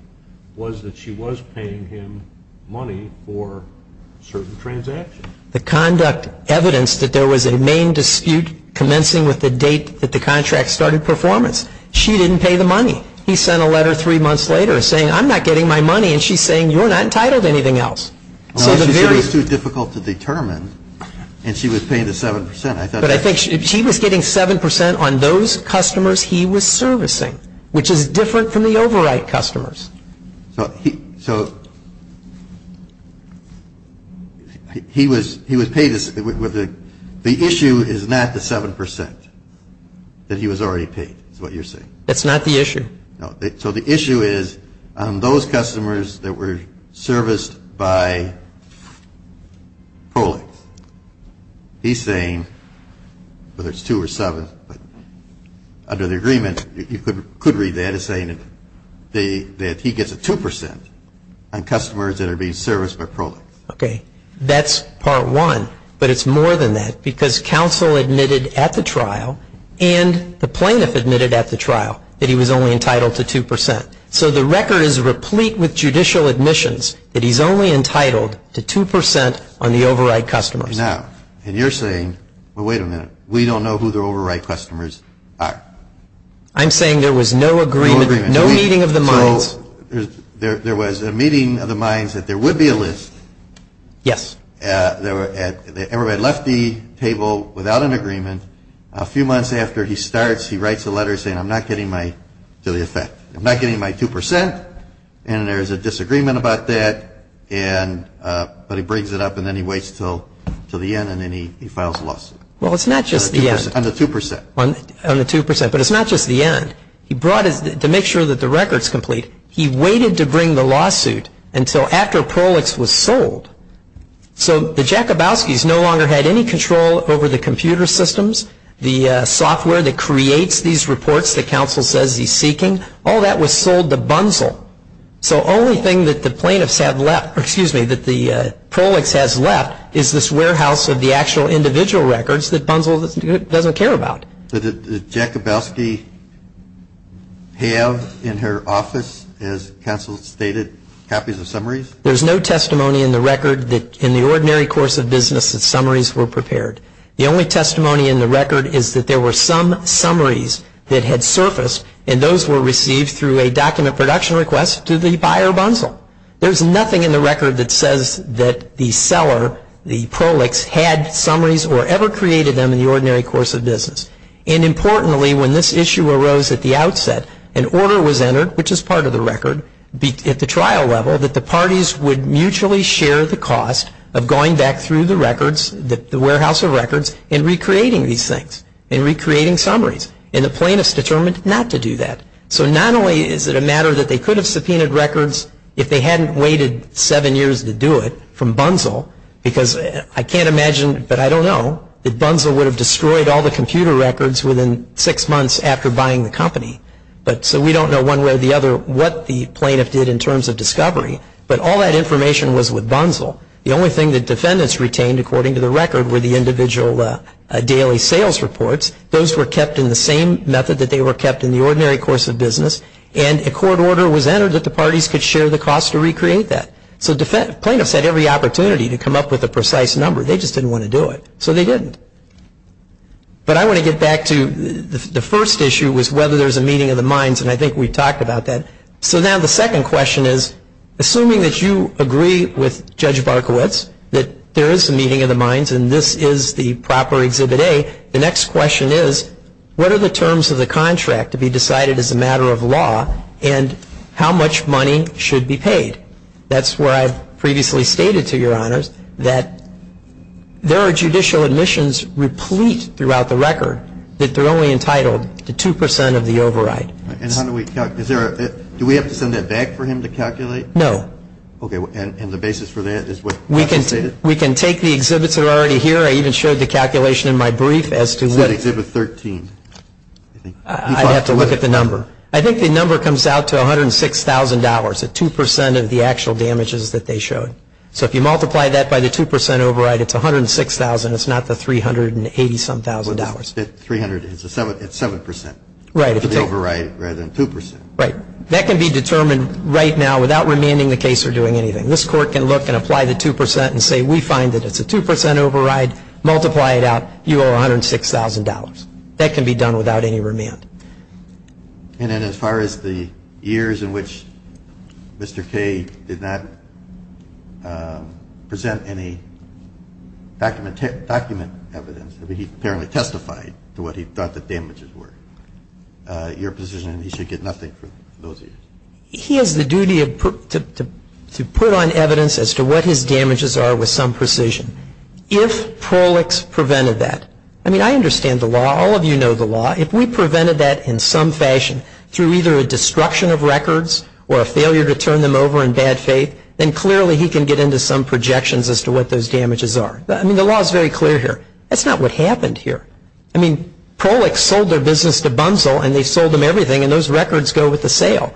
was that she was paying him money for certain transactions. The conduct evidenced that there was a main dispute commencing with the date that the contract started performance. She didn't pay the money. He sent a letter three months later saying, I'm not getting my money, and she's saying, you're not entitled to anything else. It was too difficult to determine, and she was paying the 7%. She was getting 7% on those customers he was servicing, which is different from the override customers. He was paid the issue is not the 7% that he was already paid, is what you're saying. That's not the issue. The issue is those customers that were serviced by Crowley. He's saying, whether it's 2% or 7%, under the agreement, you could read that as saying that he gets a 2% on customers that are being serviced by Crowley. That's part one, but it's more than that because his counsel admitted at the trial and the plaintiff admitted at the trial that he was only entitled to 2%, so the record is replete with judicial admissions that he's only entitled to 2% on the override customers. You're saying, wait a minute, we don't know who the override customers are. I'm saying there was no agreement, no meeting of the minds. There was a meeting of the minds that there would be a list. Yes. Everybody left the table without an agreement. A few months after he starts, he writes a letter saying, I'm not getting my 2% and there's a disagreement about that, but he brings it up and then he waits until the end and then he files a lawsuit. On the 2%. On the 2%, but it's not just the end. He brought it to make sure that the record's complete. He waited to bring the lawsuit until after Prolix was sold. The Jakabowski's no longer had any control over the computer systems, the software that creates these reports that counsel says he's seeking. All that was sold to Bunzel. The only thing that the plaintiffs have left, or excuse me, that the Prolix has left is this warehouse of the actual individual records that Bunzel doesn't care about. Did Jakabowski have in her office, as counsel stated, copies of summaries? There's no testimony in the record that in the ordinary course of business that summaries were prepared. The only testimony in the record is that there were some summaries that had surfaced and those were received through a document production request to the buyer Bunzel. There's nothing in the record that says that the seller, the Prolix, had summaries or ever created them in the ordinary course of business. And importantly, when this issue arose at the outset, an order was entered, which is part of the record, at the trial level, that the parties would mutually share the cost of going back through the records, the warehouse of records, and recreating these things, and recreating summaries. And the plaintiffs determined not to do that. So not only is it a matter that they could have subpoenaed records if they hadn't waited seven years to do it from Bunzel, because I can't imagine, but I don't know, if Bunzel would have destroyed all the computer records within six months after buying the company. So we don't know one way or the other what the plaintiff did in terms of discovery, but all that information was with Bunzel. The only thing that defendants retained, according to the record, were the individual daily sales reports. Those were kept in the same method that they were kept in the ordinary course of business, and a court order was entered that the parties could share the cost to recreate that. So plaintiffs had every opportunity to come up with a precise number. They just didn't want to do it. So they didn't. But I want to get back to the first issue was whether there's a meeting of the minds, and I think we've talked about that. So now the second question is, assuming that you agree with Judge Barkowitz that there is a meeting of the minds, and this is the proper Exhibit A, the next question is, what are the terms of the contract to be decided as a matter of law, and how much money should be paid? That's where I've previously stated to Your Honors that there are judicial admissions replete throughout the record that they're only entitled to 2% of the override. And how do we calculate? Do we have to send that back for him to calculate? No. Okay. And the basis for that is what you stated? We can take the exhibits that are already here. I even showed the calculation in my brief as to what... Exhibit 13. I'd have to look at the number. I think the number comes out to $106,000, the 2% of the actual damages that they showed. So if you multiply that by the 2% override, it's $106,000. It's not the $380-some-thousand. $380-some-thousand. $300 is 7% of the override, rather than 2%. Right. That can be determined right now without remanding the case or doing anything. This Court can look and apply the 2% and say we find that it's a 2% override, multiply it out, you owe $106,000. That can be done without any remand. And then as far as the years in which Mr. K did not present any document evidence that he apparently testified to what he thought the damages were, your position is that he should get nothing for those years. He has the duty to put on evidence as to what his damages are with some precision. If Prolix prevented that, I mean, I understand the law. All of you know the law. If we prevented that in some fashion through either a destruction of records or a failure to turn them over in bad faith, then clearly he can get into some projections as to what those damages are. I mean, the law is very clear here. That's not what happened here. I mean, Prolix sold their business to Bunzel, and they sold him everything, and those records go with the sale.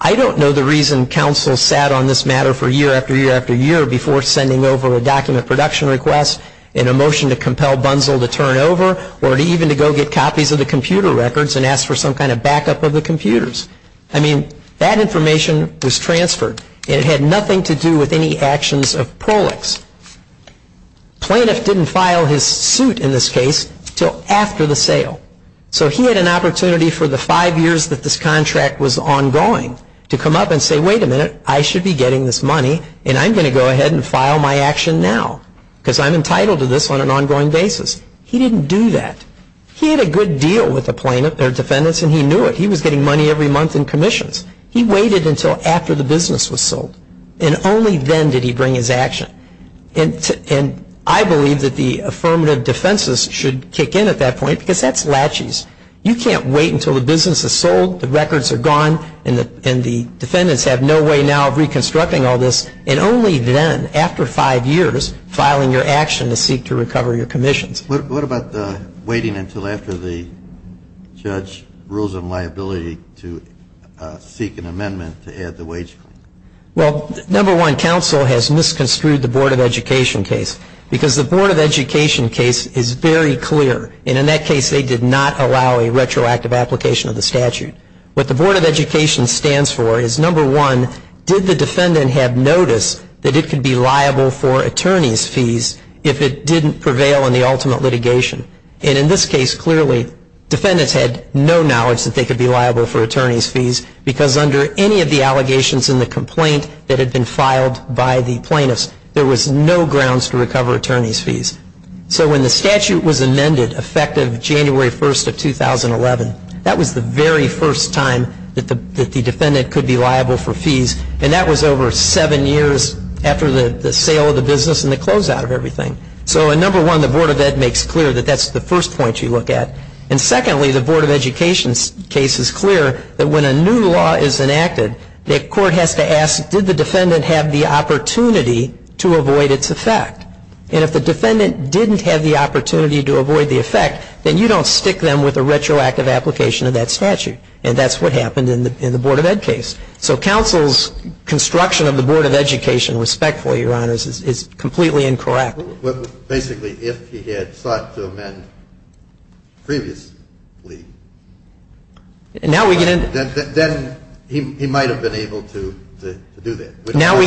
I don't know the reason counsel sat on this matter for year after year after year before sending over a document production request in a motion to compel Bunzel to turn it over or even to go get copies of the computer records and ask for some kind of backup of the computers. I mean, that information was transferred, and it had nothing to do with any actions of Prolix. Plaintiff didn't file his suit in this case until after the sale. So he had an opportunity for the five years that this contract was ongoing to come up and say, wait a minute, I should be getting this money, and I'm going to go ahead and file my action now because I'm entitled to this on an ongoing basis. He didn't do that. He had a good deal with the plaintiff, their business was sold, and only then did he bring his action. And I believe that the affirmative defenses should kick in at that point because that's latches. You can't wait until the business is sold, the records are gone, and the defendants have no way now of reconstructing all this, and only then, after five years, filing your action to seek to recover your commission. What about waiting until after the judge rules on liability to seek an amendment to add the wage? Well, number one, counsel has misconstrued the Board of Education case because the Board of Education case is very clear, and in that case they did not allow a retroactive application of the statute. What the Board of Education stands for is, number one, did the defendant have notice that it could be liable for attorney's fees if it didn't prevail in the ultimate litigation? And in this case, clearly, defendants had no knowledge that they could be liable for attorney's fees because under any of the allegations in the complaint that had been filed by the plaintiffs, there was no grounds to recover attorney's fees. So when the statute was amended, effective January 1st of 2011, that was the very first time that the defendant could be liable for fees, and that was over seven years after the sale of the business and the closeout of everything. So, number one, the Board of Ed makes clear that that's the first point you look at. And secondly, the Board of Education case is clear that when a new law is enacted, the court has to ask, did the defendant have the opportunity to avoid its effect? And if the defendant didn't have the opportunity to avoid the effect, then you don't stick them with a retroactive application of that statute, and that's what happened in the Board of Ed case. So counsel's construction of the Board of Education, respectfully, Your Honor, is completely incorrect. Basically, if he had sought to amend previously, then he might have been able to do that. But now we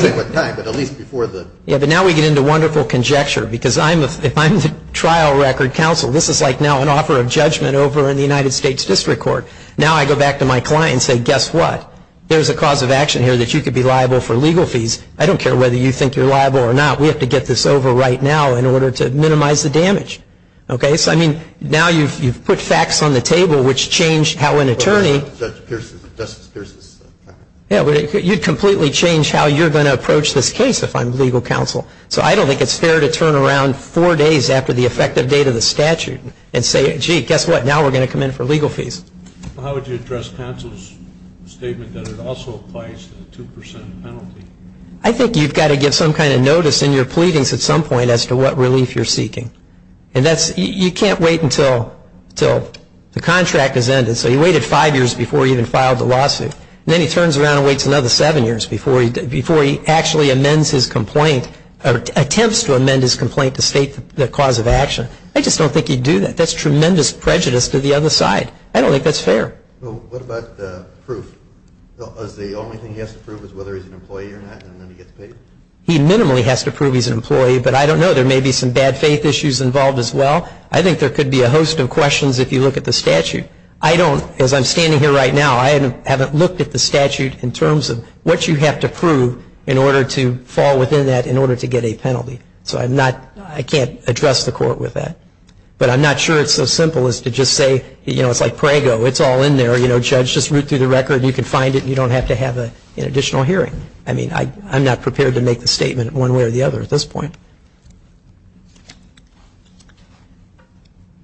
get into wonderful conjecture, because I'm the trial record counsel. This is like now an offer of judgment over a United States district court. Now I go back to my client and say, guess what? There's a cause of action here that you could be liable for legal fees. I don't care whether you think you're liable or not. We have to get this over right now in order to minimize the damage. Okay? So I mean, now you've put facts on the table which change how an attorney... You'd completely change how you're going to approach this case if I'm legal counsel. So I don't think it's fair to turn around four days after the effective date of the statute and say, gee, guess what? Now we're going to come in for legal fees. How would you address counsel's statement that it also applies to the 2% penalty? I think you've got to give some kind of notice in your pleadings at some point as to what relief you're seeking. You can't wait until the contract has ended. So he waited five years before he even filed the lawsuit. Then he turns around and waits another seven years before he actually amends his complaint, or attempts to amend his complaint to state the cause of action. I just don't think he'd do that. That's tremendous prejudice to the other side. I don't think that's fair. What about the proof? The only thing he has to prove is whether he's an employee or not, and then he gets paid. He minimally has to prove he's an employee, but I don't know. There may be some bad faith issues involved as well. I think there could be a host of questions if you look at the statute. I don't, as I'm standing here right now, I haven't looked at the statute in terms of what you have to prove in order to fall within that, in order to get a penalty. So I'm not, I can't address the court with that. But I'm not sure it's so simple as to just say, you know, it's like prango. It's all in there. You know, judge, just root through the record. You can find it. You don't have to have an additional hearing. I mean, I'm not prepared to make a statement one way or the other at this point.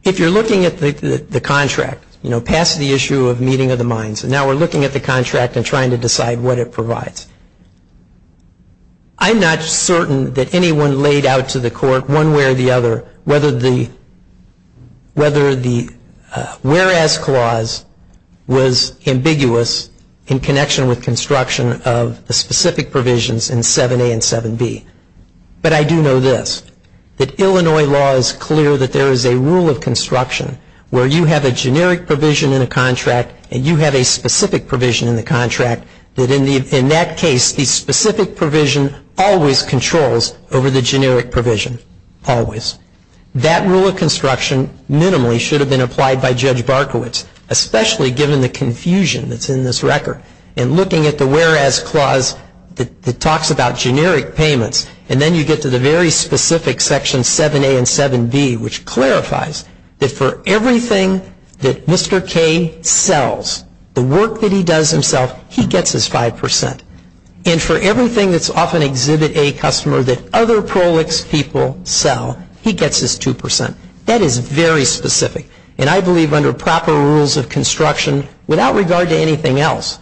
If you're looking at the contract, you know, past the issue of meeting of the minds, and now we're looking at the contract and trying to decide what it provides. I'm not certain that anyone laid out to the court one way or the other whether the, whether the pass clause was ambiguous in connection with construction of the specific provisions in 7A and 7B. But I do know this, that Illinois law is clear that there is a rule of construction where you have a generic provision in a contract and you have a specific provision in the contract that in that case, the specific provision always controls over the generic provision, always. That rule of construction minimally should have been applied by Judge Barkowitz, especially given the confusion that's in this record. And looking at the whereas clause that talks about generic payments, and then you get to the very specific section 7A and 7B, which clarifies that for everything that Mr. K sells, the work that he does himself, he gets his 5%. And for everything that's off an Exhibit A customer that other prolix people sell, he gets his 2%. That is very specific. And I believe under proper rules of construction, without regard to anything else,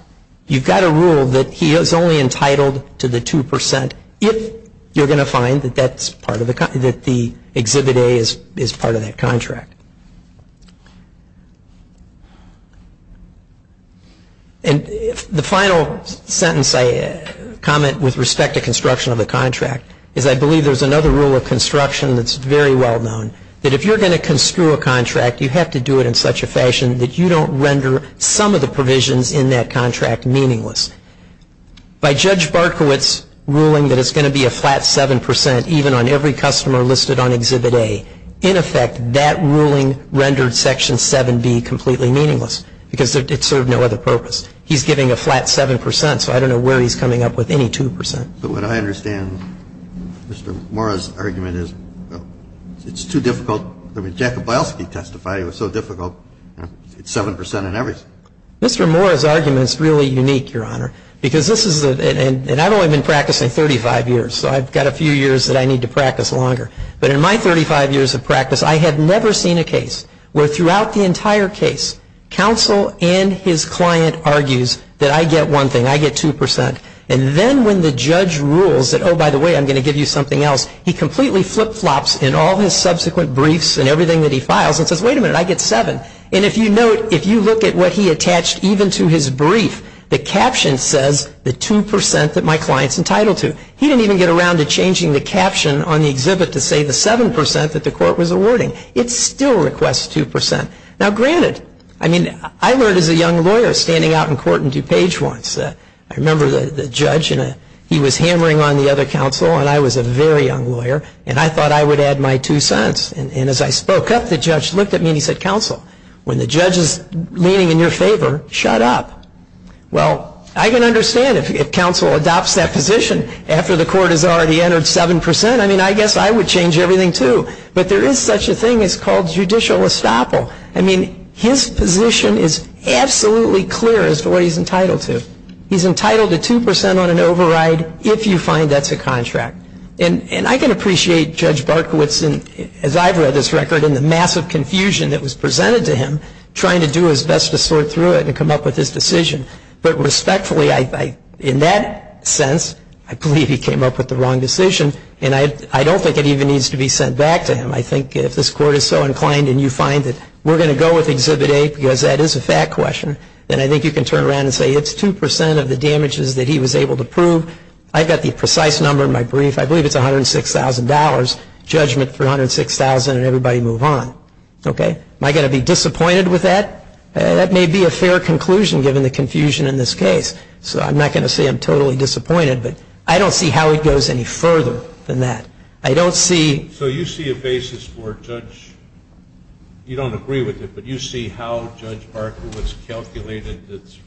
you've got a rule that he is only entitled to the 2% if you're going to find that the Exhibit A is part of that contract. And the final sentence I comment with respect to construction of the contract is I believe there's another rule of construction that's very well known, that if you're going to construe a contract, you have to do it in such a fashion that you don't render some of the provisions in that contract meaningless. By Judge Barkowitz's ruling that it's going to be a flat 7%, even on every customer listed on Exhibit A, in effect, that ruling rendered Section 7B completely meaningless, because it served no other purpose. He's getting a flat 7%, so I don't know where he's coming up with any 2%. So what I understand, Mr. Mora's argument is, well, it's too difficult. I mean, Jacob Bielsky testified it was so difficult, 7% on everything. Mr. Mora's argument is really unique, Your Honor, because this is, and I've only been practicing 35 years, so I've got a few years that I need to practice longer. But in my 35 years of practice, I have never seen a case where throughout the entire case, counsel and his client argues that I get one thing, I get 2%. And then when the judge rules that, oh, by the way, I'm going to give you something else, he completely flip-flops in all his subsequent briefs and everything that he files and says, wait a minute, I get 7%. And if you note, if you look at what he attached, even to his brief, the caption says the 2% that my client's entitled to. He didn't even get around to changing the caption on the exhibit to say the 7% that the court was awarding. It still requests 2%. Now, granted, I mean, I was a young lawyer standing out in court in DuPage once. I remember the judge, and he was hammering on the other counsel, and I was a very young lawyer, and I thought I would add my 2 cents. And as I spoke up, the judge looked at me and he said, counsel, when the judge is leaning in your favor, shut up. Well, I can understand if counsel adopts that position after the court has already entered 7%. I mean, I guess I would change everything, too. But there is such a thing as called judicial estoppel. I mean, his position is absolutely clear as to what he's entitled to. He's entitled to 2% on an override if you find that's a contract. And I can appreciate Judge Barkowitz, as I've read his record, and the massive confusion that was presented to him trying to do his best to sort through it and come up with his decision. But respectfully, in that sense, I believe he came up with the wrong decision, and I don't think it even needs to be sent back to him. I think if this court is so exhibited, because that is a fact question, then I think you can turn around and say, it's 2% of the damages that he was able to prove. I've got the precise number in my brief. I believe it's $106,000. Judgment, $306,000, and everybody move on. Okay? Am I going to be disappointed with that? That may be a fair conclusion, given the confusion in this case. So I'm not going to say I'm totally disappointed, but I don't see how it goes any further than that. I don't see... So you see a basis for it, Judge? You don't agree with it, but you see how Judge Barkowitz calculated this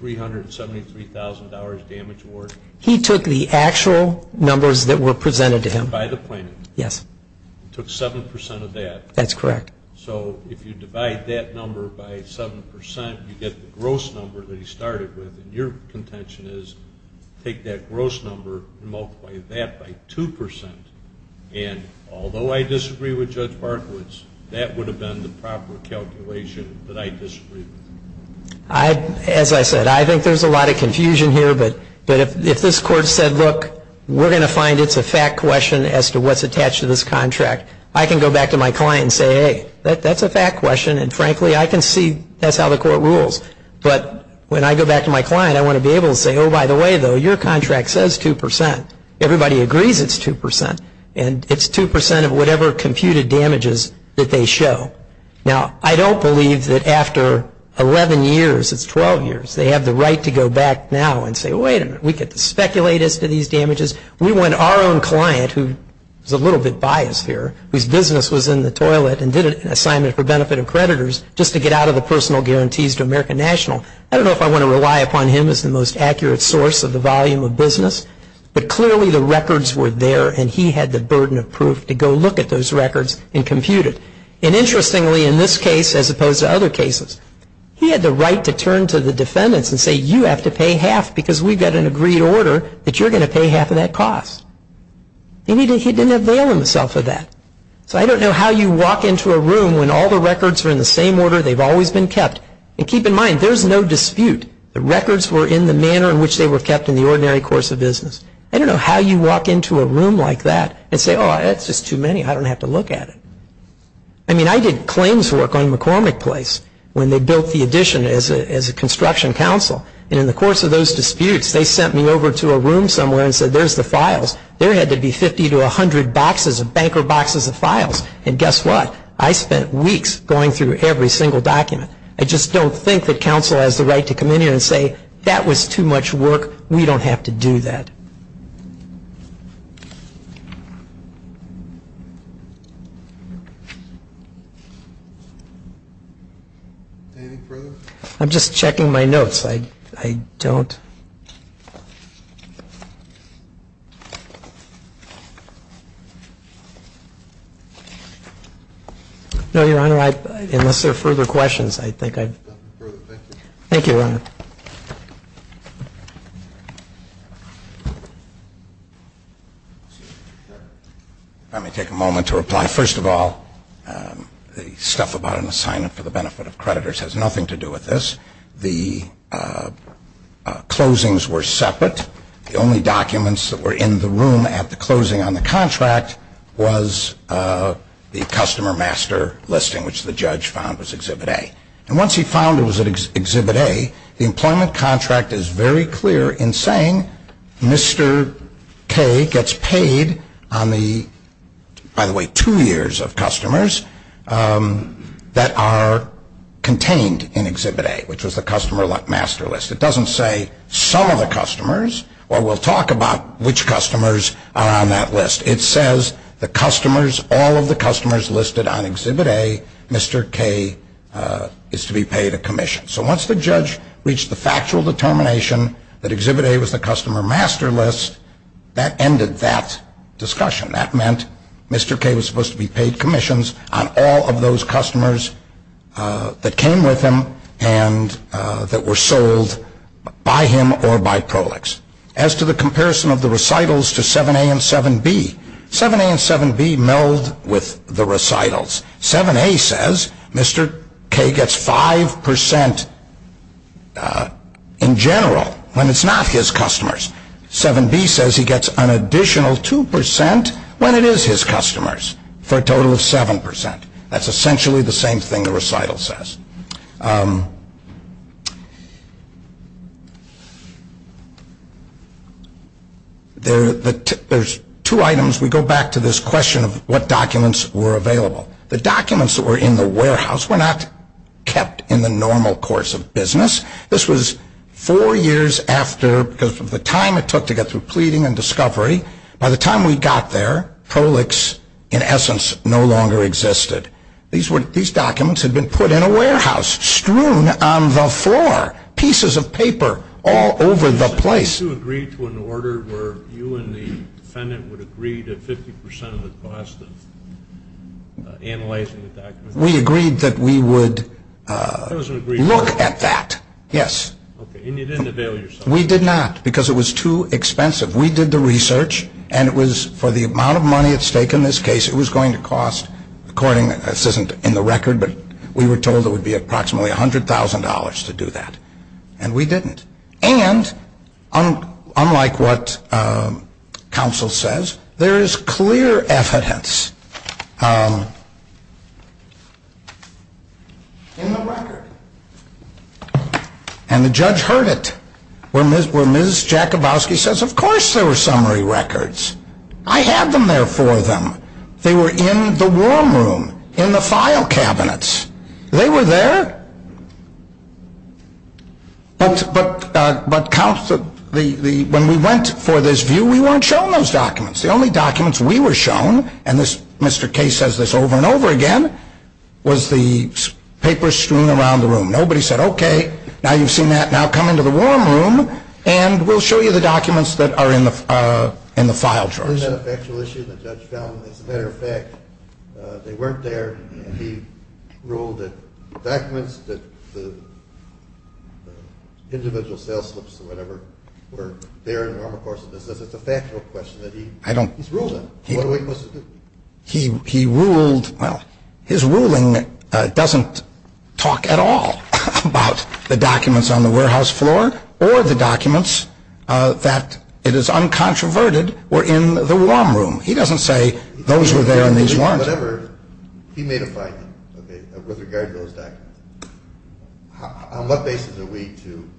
$373,000 damage award? He took the actual numbers that were presented to him. By the plaintiff? Yes. He took 7% of that. That's correct. So if you divide that number by 7%, you get the gross number that he started with, and your contention is, take that gross number and multiply that by 2%. And although I disagree with Judge Barkowitz, that would have been the proper calculation that I disagree with. As I said, I think there's a lot of confusion here, but if this Court said, look, we're going to find it's a fact question as to what's attached to this contract, I can go back to my client and say, hey, that's a fact question, and frankly, I can see that's how the Court rules. But when I go back to my client, I want to be able to say, oh, by the way, though, your contract says 2%. Everybody agrees it's 2%. And it's 2% of whatever computed damages that they show. Now, I don't believe that after 11 years, it's 12 years, they have the right to go back now and say, wait a minute, we can speculate as to these damages. We want our own client, who is a little bit biased here, whose business was in the toilet and did an assignment for benefit of creditors just to get out of the personal guarantees to American National. I don't know if I want to rely upon him as the most accurate source of the volume of business, but clearly the records were there, and he had the burden of proof to go look at those records and compute it. And interestingly, in this case, as opposed to other cases, he had the right to turn to the defendants and say, you have to pay half because we've got an agreed order that you're going to pay half of that cost. And he didn't avail himself of that. So I don't know how you walk into a room when all the records are in the same order, they've always been kept. And keep in mind, there's no dispute the records were in the manner in which they were in the course of business. I don't know how you walk into a room like that and say, oh, that's just too many. I don't have to look at it. I mean, I did claims work on McCormick Place when they built the addition as a construction counsel. And in the course of those disputes, they sent me over to a room somewhere and said, there's the files. There had to be 50 to 100 boxes of banker boxes of files. And guess what? I spent weeks going through every single document. I just don't think that counsel has the right to come in here and say, that was too much work. We don't have to do that. Anything further? I'm just checking my notes. I don't... No, Your Honor, unless there are further questions, I think I've... Thank you, Your Honor. Let me take a moment to reply. First of all, the stuff about an assignment for the benefit of creditors has nothing to do with this. The closings were separate. The only documents that were in the room at the closing on the contract was the customer master listing, which the judge found was Exhibit A. And once he found it was Exhibit A, the employment contract is very clear in saying Mr. K gets paid on the, by the way, two years of customers that are contained in Exhibit A, which was the customer master list. It doesn't say some of the customers, or we'll talk about which customers are on that list. It says the customers, all of the customers listed on Exhibit A, Mr. K is to be paid a commission. So once the judge reached the factual determination that Exhibit A was the customer master list, that ended that discussion. That meant Mr. K was supposed to be paid commissions on all of those customers that came with him and that were sold by him or by Prolix. As to the comparison of the recitals to 7A and 7B, 7A and 7B meld with the recitals. 7A says Mr. K gets five percent in general when it's not his customers. 7B says he gets an additional two percent when it is his customers for a total of seven percent. That's essentially the same thing the recital says. There's two items. We go back to this question of what documents were available. The documents that were in the warehouse were not kept in the normal course of business. This was four years after, because of the time it took to get through pleading and discovery, by the time we got there, Prolix in essence no longer existed. These documents had been put in a warehouse, strewn on the floor, pieces of paper all over the place. Did you agree to an order where you and the defendant would agree to 50 percent of the cost of analyzing the documents? We agreed that we would look at that. Yes. And you didn't avail yourself? We did not, because it was too expensive. We did the research and it was for the amount of money at stake in this case it was going to cost, according to this isn't in the record, but we were told it would be approximately $100,000 to do that. And we didn't. And, unlike what counsel says, there is clear evidence in the record. And the judge heard it. When Ms. Jakubowski says, of course there were summary records. I have them there for them. They were in the warm room, in the file cabinets. They were there. When we went for this view, we weren't shown those documents. The only documents we were shown, and Mr. Kaye says this over and over again, was the paper strewn around the room. Nobody said, okay, now you've seen that, now come into the warm room and we'll show you the documents that are in the file drawers. Isn't that a factual issue the judge found? As a matter of fact, they weren't there, and he ruled that the documents, that the individual sales slips, or whatever, were there in the warmer course of business. It's a factual question. What are we supposed to do? He ruled, well, his ruling doesn't talk at all about the documents on the warehouse floor, or the documents that, it is uncontroverted, were in the warm room. He doesn't say those were there and these weren't. He made a finding, with regard to those documents. On what basis are we to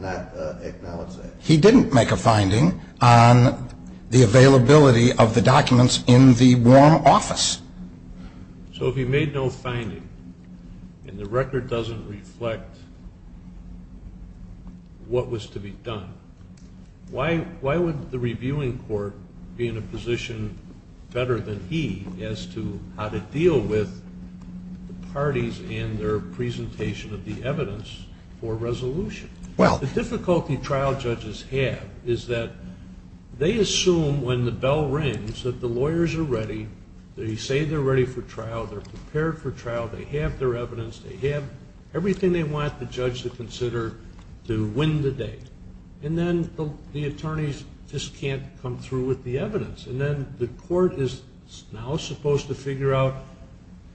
not acknowledge that? He didn't make a finding on the availability of the documents in the warm office. So if he made no finding, and the record doesn't reflect what was to be done, why would the reviewing court be in a position better than he as to how to deal with the parties and their presentation of the evidence for resolution? The difficulty trial judges have is that they assume when the bell rings that the lawyers are ready, they say they're ready for trial, they're prepared for trial, they have their evidence, they have everything they want the judge to consider to win the day. And then the attorneys just can't come through with the evidence. And then the court is now supposed to figure out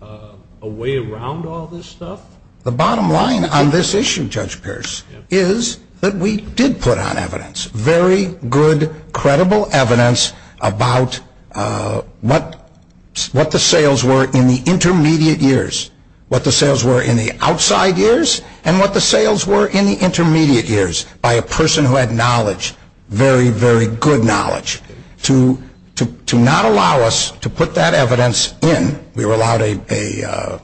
a way around all this stuff? The bottom line on this issue, Judge Pierce, is that we did put out evidence, very good, credible evidence, about what the sales were in the intermediate years, what the sales were in the outside years, and what the sales were in the intermediate years, by a person who had knowledge, very, very good knowledge, to not allow us to put that evidence in. We were allowed a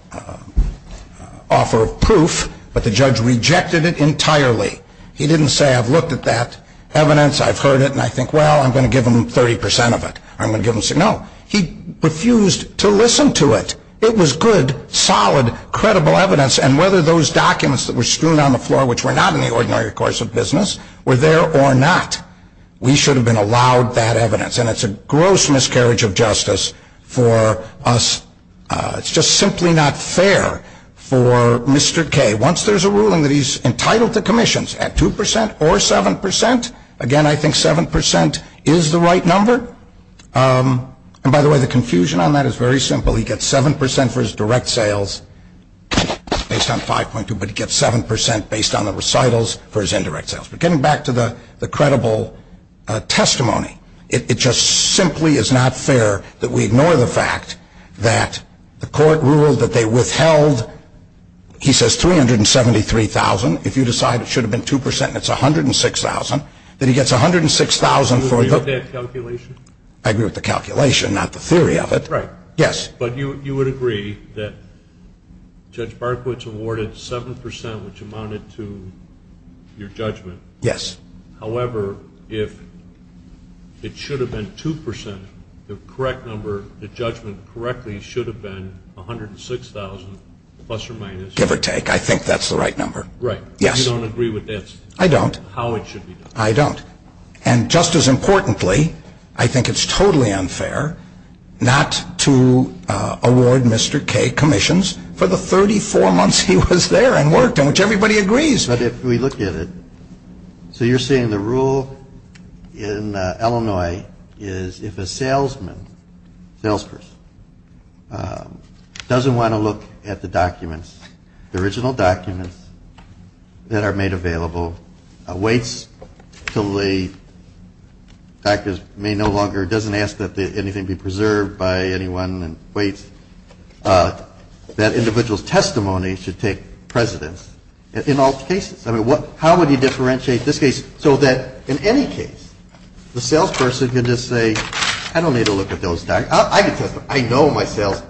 offer of proof, but the judge rejected it entirely. He didn't say, I've looked at that evidence, I've heard it, and I think, well, I'm going to give him 30% of it. I'm going to give him... No. He refused to listen to it. It was good, solid, credible evidence, and whether those documents that were strewn on the floor, which were not in the ordinary course of business, were there or not, we should have been allowed that evidence. And it's a gross miscarriage of justice for us. It's just simply not fair for Mr. Kay. Once there's a ruling that he's entitled to commissions at 2% or 7%, again, I think 7% is the right number. And by the way, the confusion on that is very simple. He gets 7% for his direct sales based on 5.2, but he gets 7% based on the recitals for his indirect sales. But getting back to the credible testimony, it just simply is not fair that we ignore the fact that the court ruled that they withheld, he says, $373,000. If you decide it should have been 2% and it's $106,000, then he gets $106,000 for... Do you agree with that calculation? I agree with the calculation, not the theory of it. Right. But you would agree that Judge Barclay awarded 7%, which amounted to your judgment. Yes. However, if it should have been 2%, the correct number, the judgment correctly should have been $106,000, plus or minus... Give or take. I think that's the right number. Right. You don't agree with that statement? I don't. How it should have worked correctly, I think it's totally unfair not to award Mr. Kay commissions for the 34 months he was there and worked in which everybody agrees. But if we look at it, so you're saying the rule in Illinois is if a salesman, salesperson, doesn't want to look at the documents, the original documents that are made available, waits until a doctor may no longer, doesn't ask that anything be preserved by anyone, waits, that individual's testimony should take precedence in all cases. How would you differentiate this case so that in any case the salesperson can just say, I don't need to look at those documents. I know my sales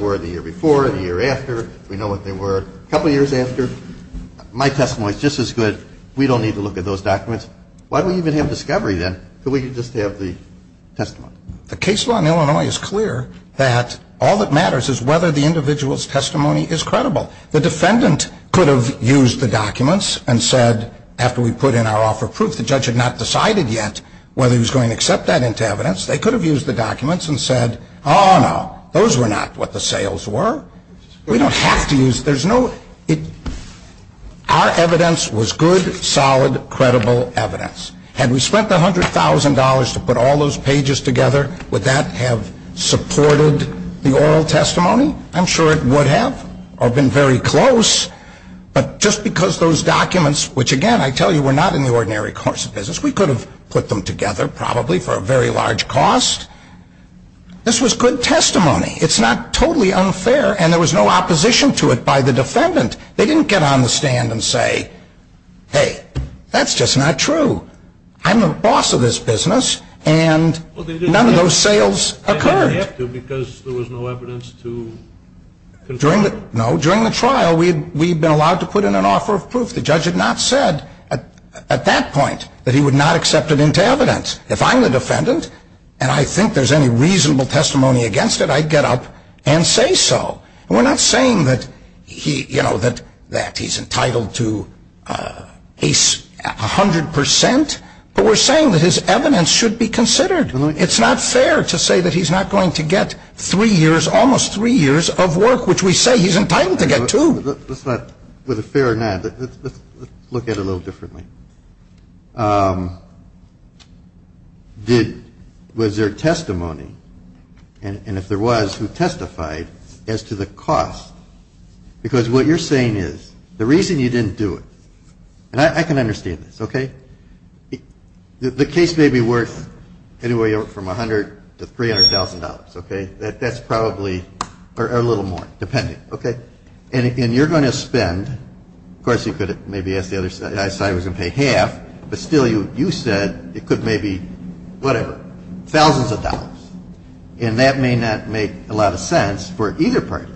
were the year before or the year after. We know what they were a couple years after. My testimony is just as good. We don't need to look at those documents. Why don't we even have discovery then? So we can just have the testimony. The case law in Illinois is clear that all that matters is whether the individual's testimony is credible. The defendant could have used the documents and said, after we put in our offer of proof, the judge had not decided yet whether he was going to accept that into evidence. They could have used the documents and said, oh no, those were not what the sales were. We don't have to use them. Our evidence was good, solid, credible evidence. Had we spent the $100,000 to put all those pages together, would that have supported the oral testimony? I'm sure it would have. I've been very close. Just because those documents, which again, I tell you, were not in the ordinary course of business. We could have put them together probably for a very large cost. This was good testimony. It's not totally unfair, and there was no opposition to it by the defendant. They didn't get on the stand and say, hey, that's just not true. I'm the boss of this business, and none of those sales occurred. ...because there was no evidence to... No, during the trial, we'd been allowed to put in an offer of proof. The judge had not said at that point that he would not accept it into evidence. If I'm the defendant, and I think there's any reason for me to stand up and say so, we're not saying that he's entitled to a hundred percent, but we're saying that his evidence should be considered. It's not fair to say that he's not going to get three years, almost three years of work, which we say he's entitled to get, too. Let's not...whether it's fair or not, let's look at it a little differently. Was there testimony, and if there was, who testified as to the cost? Because what you're saying is the reason you didn't do it, and I can understand this, okay? The case may be worth anywhere from $100,000 to $300,000, okay? That's probably...or a little more, depending, okay? And you're going to spend... Of course, you could maybe ask the other side. I was going to pay half, but still, you said it could maybe, whatever, thousands of dollars. And that may not make a lot of sense for either person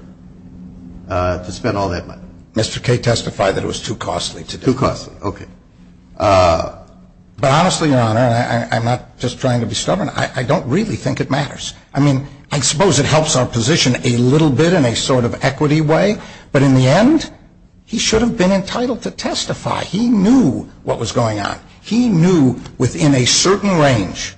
to spend all that money. Mr. Kay testified that it was too costly to do. Too costly, okay. But honestly, Your Honor, I'm not just trying to be stubborn. I don't really think it matters. I mean, I suppose it helps our position a little bit in a sort of equity way, but in the end, he should have been entitled to testify. He knew what was going on. He knew, within a certain range,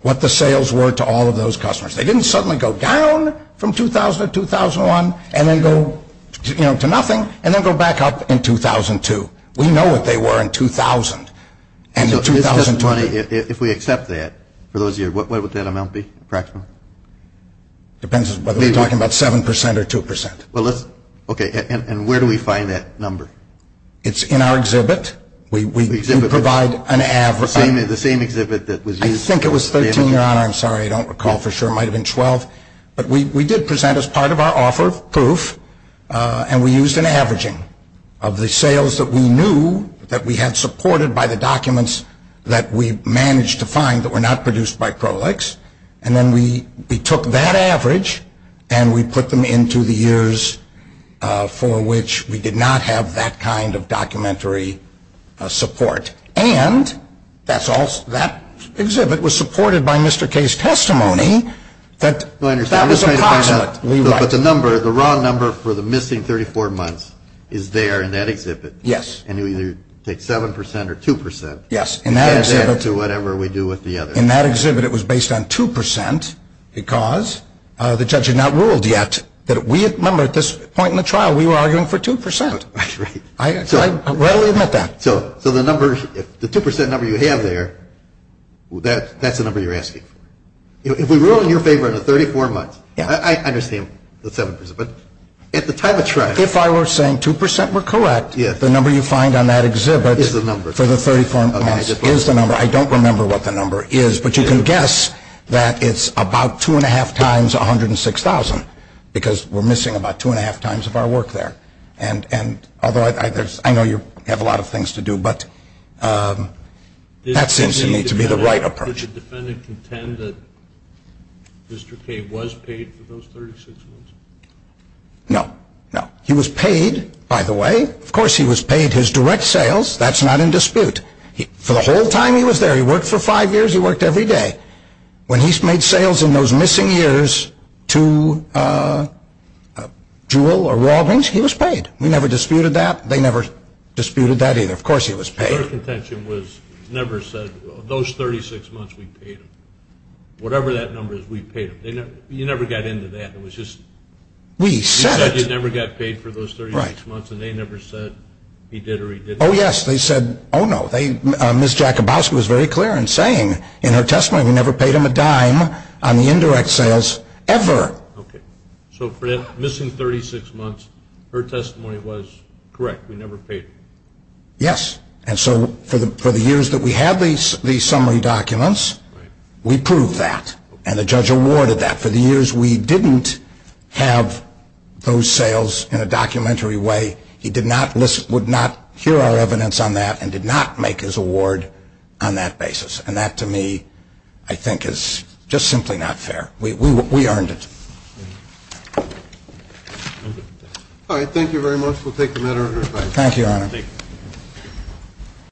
what the sales were to all of those customers. They didn't suddenly go down from 2000 to 2001, and then go, you know, to nothing, and then go back up in 2002. We know what they were in 2000. And in 2020... If we accept that, for those of you... What would that amount be, approximately? Depends on whether you're talking about 7% or 2%. Well, let's... Okay. And where do we find that number? It's in our exhibit. We provide an average. The same exhibit that was used... I think it was 13, Your Honor. I'm sorry. I don't recall for sure. It might have been 12. But we did present as part of our offer proof, and we used an averaging of the sales that we knew that we had supported by the documents that we managed to find that were not produced by Prolix, and then we took that average and we put them into the years for which we did not have that kind of documentary support. And, that's all. That exhibit was supported by Mr. Kay's testimony that... But the number, the raw number for the missing 34 months is there in that exhibit. Yes. And you either take 7% or 2%. Yes. In that exhibit... In that exhibit it was based on 2%, because the judge had not ruled yet that we... Remember, at this point in the trial, we were arguing for 2%. Right. I readily admit that. So, the 2% number you have there, that's the number you're asking. If we rule in your favor the 34 months, I understand the 7%, but at the time of trial... If I were saying 2% were correct, the number you find on that exhibit is the number. I don't remember what the number is, but you can guess that it's about 2 1⁄2 times 106,000, because we're missing about 2 1⁄2 times of our work there. And, although I know you have a lot of things to do, but... That seems to me to be the right approach. Did the defendant contend that Mr. Kay was paid for those 36 months? No. No. He was paid, by the way. Of course he was paid his direct sales. That's not in dispute. For the whole time he was there, he worked for 5 years, he worked every day. When he made sales in those missing years to Jewell or Rawlings, he was paid. We never disputed that. They never disputed that either. Of course he was paid. Those 36 months we paid him. Whatever that number is, we paid him. You never got into that. You never got paid for those 36 months, and they never said he did or he didn't. Oh, yes. They said, oh, no. Ms. Jacobowski was very clear in saying in her testimony, we never paid him a dime on the indirect sales, ever. So, for the missing 36 months, her testimony was correct. We never paid him. Yes. And so, for the years that we had these summary documents, we proved that. And the judge awarded that. For the years we didn't have those sales in a documentary way, he would not hear our evidence on that and did not make his award on that basis. And that, to me, I think is just simply not fair. We earned it. All right. Thank you, Your Honor.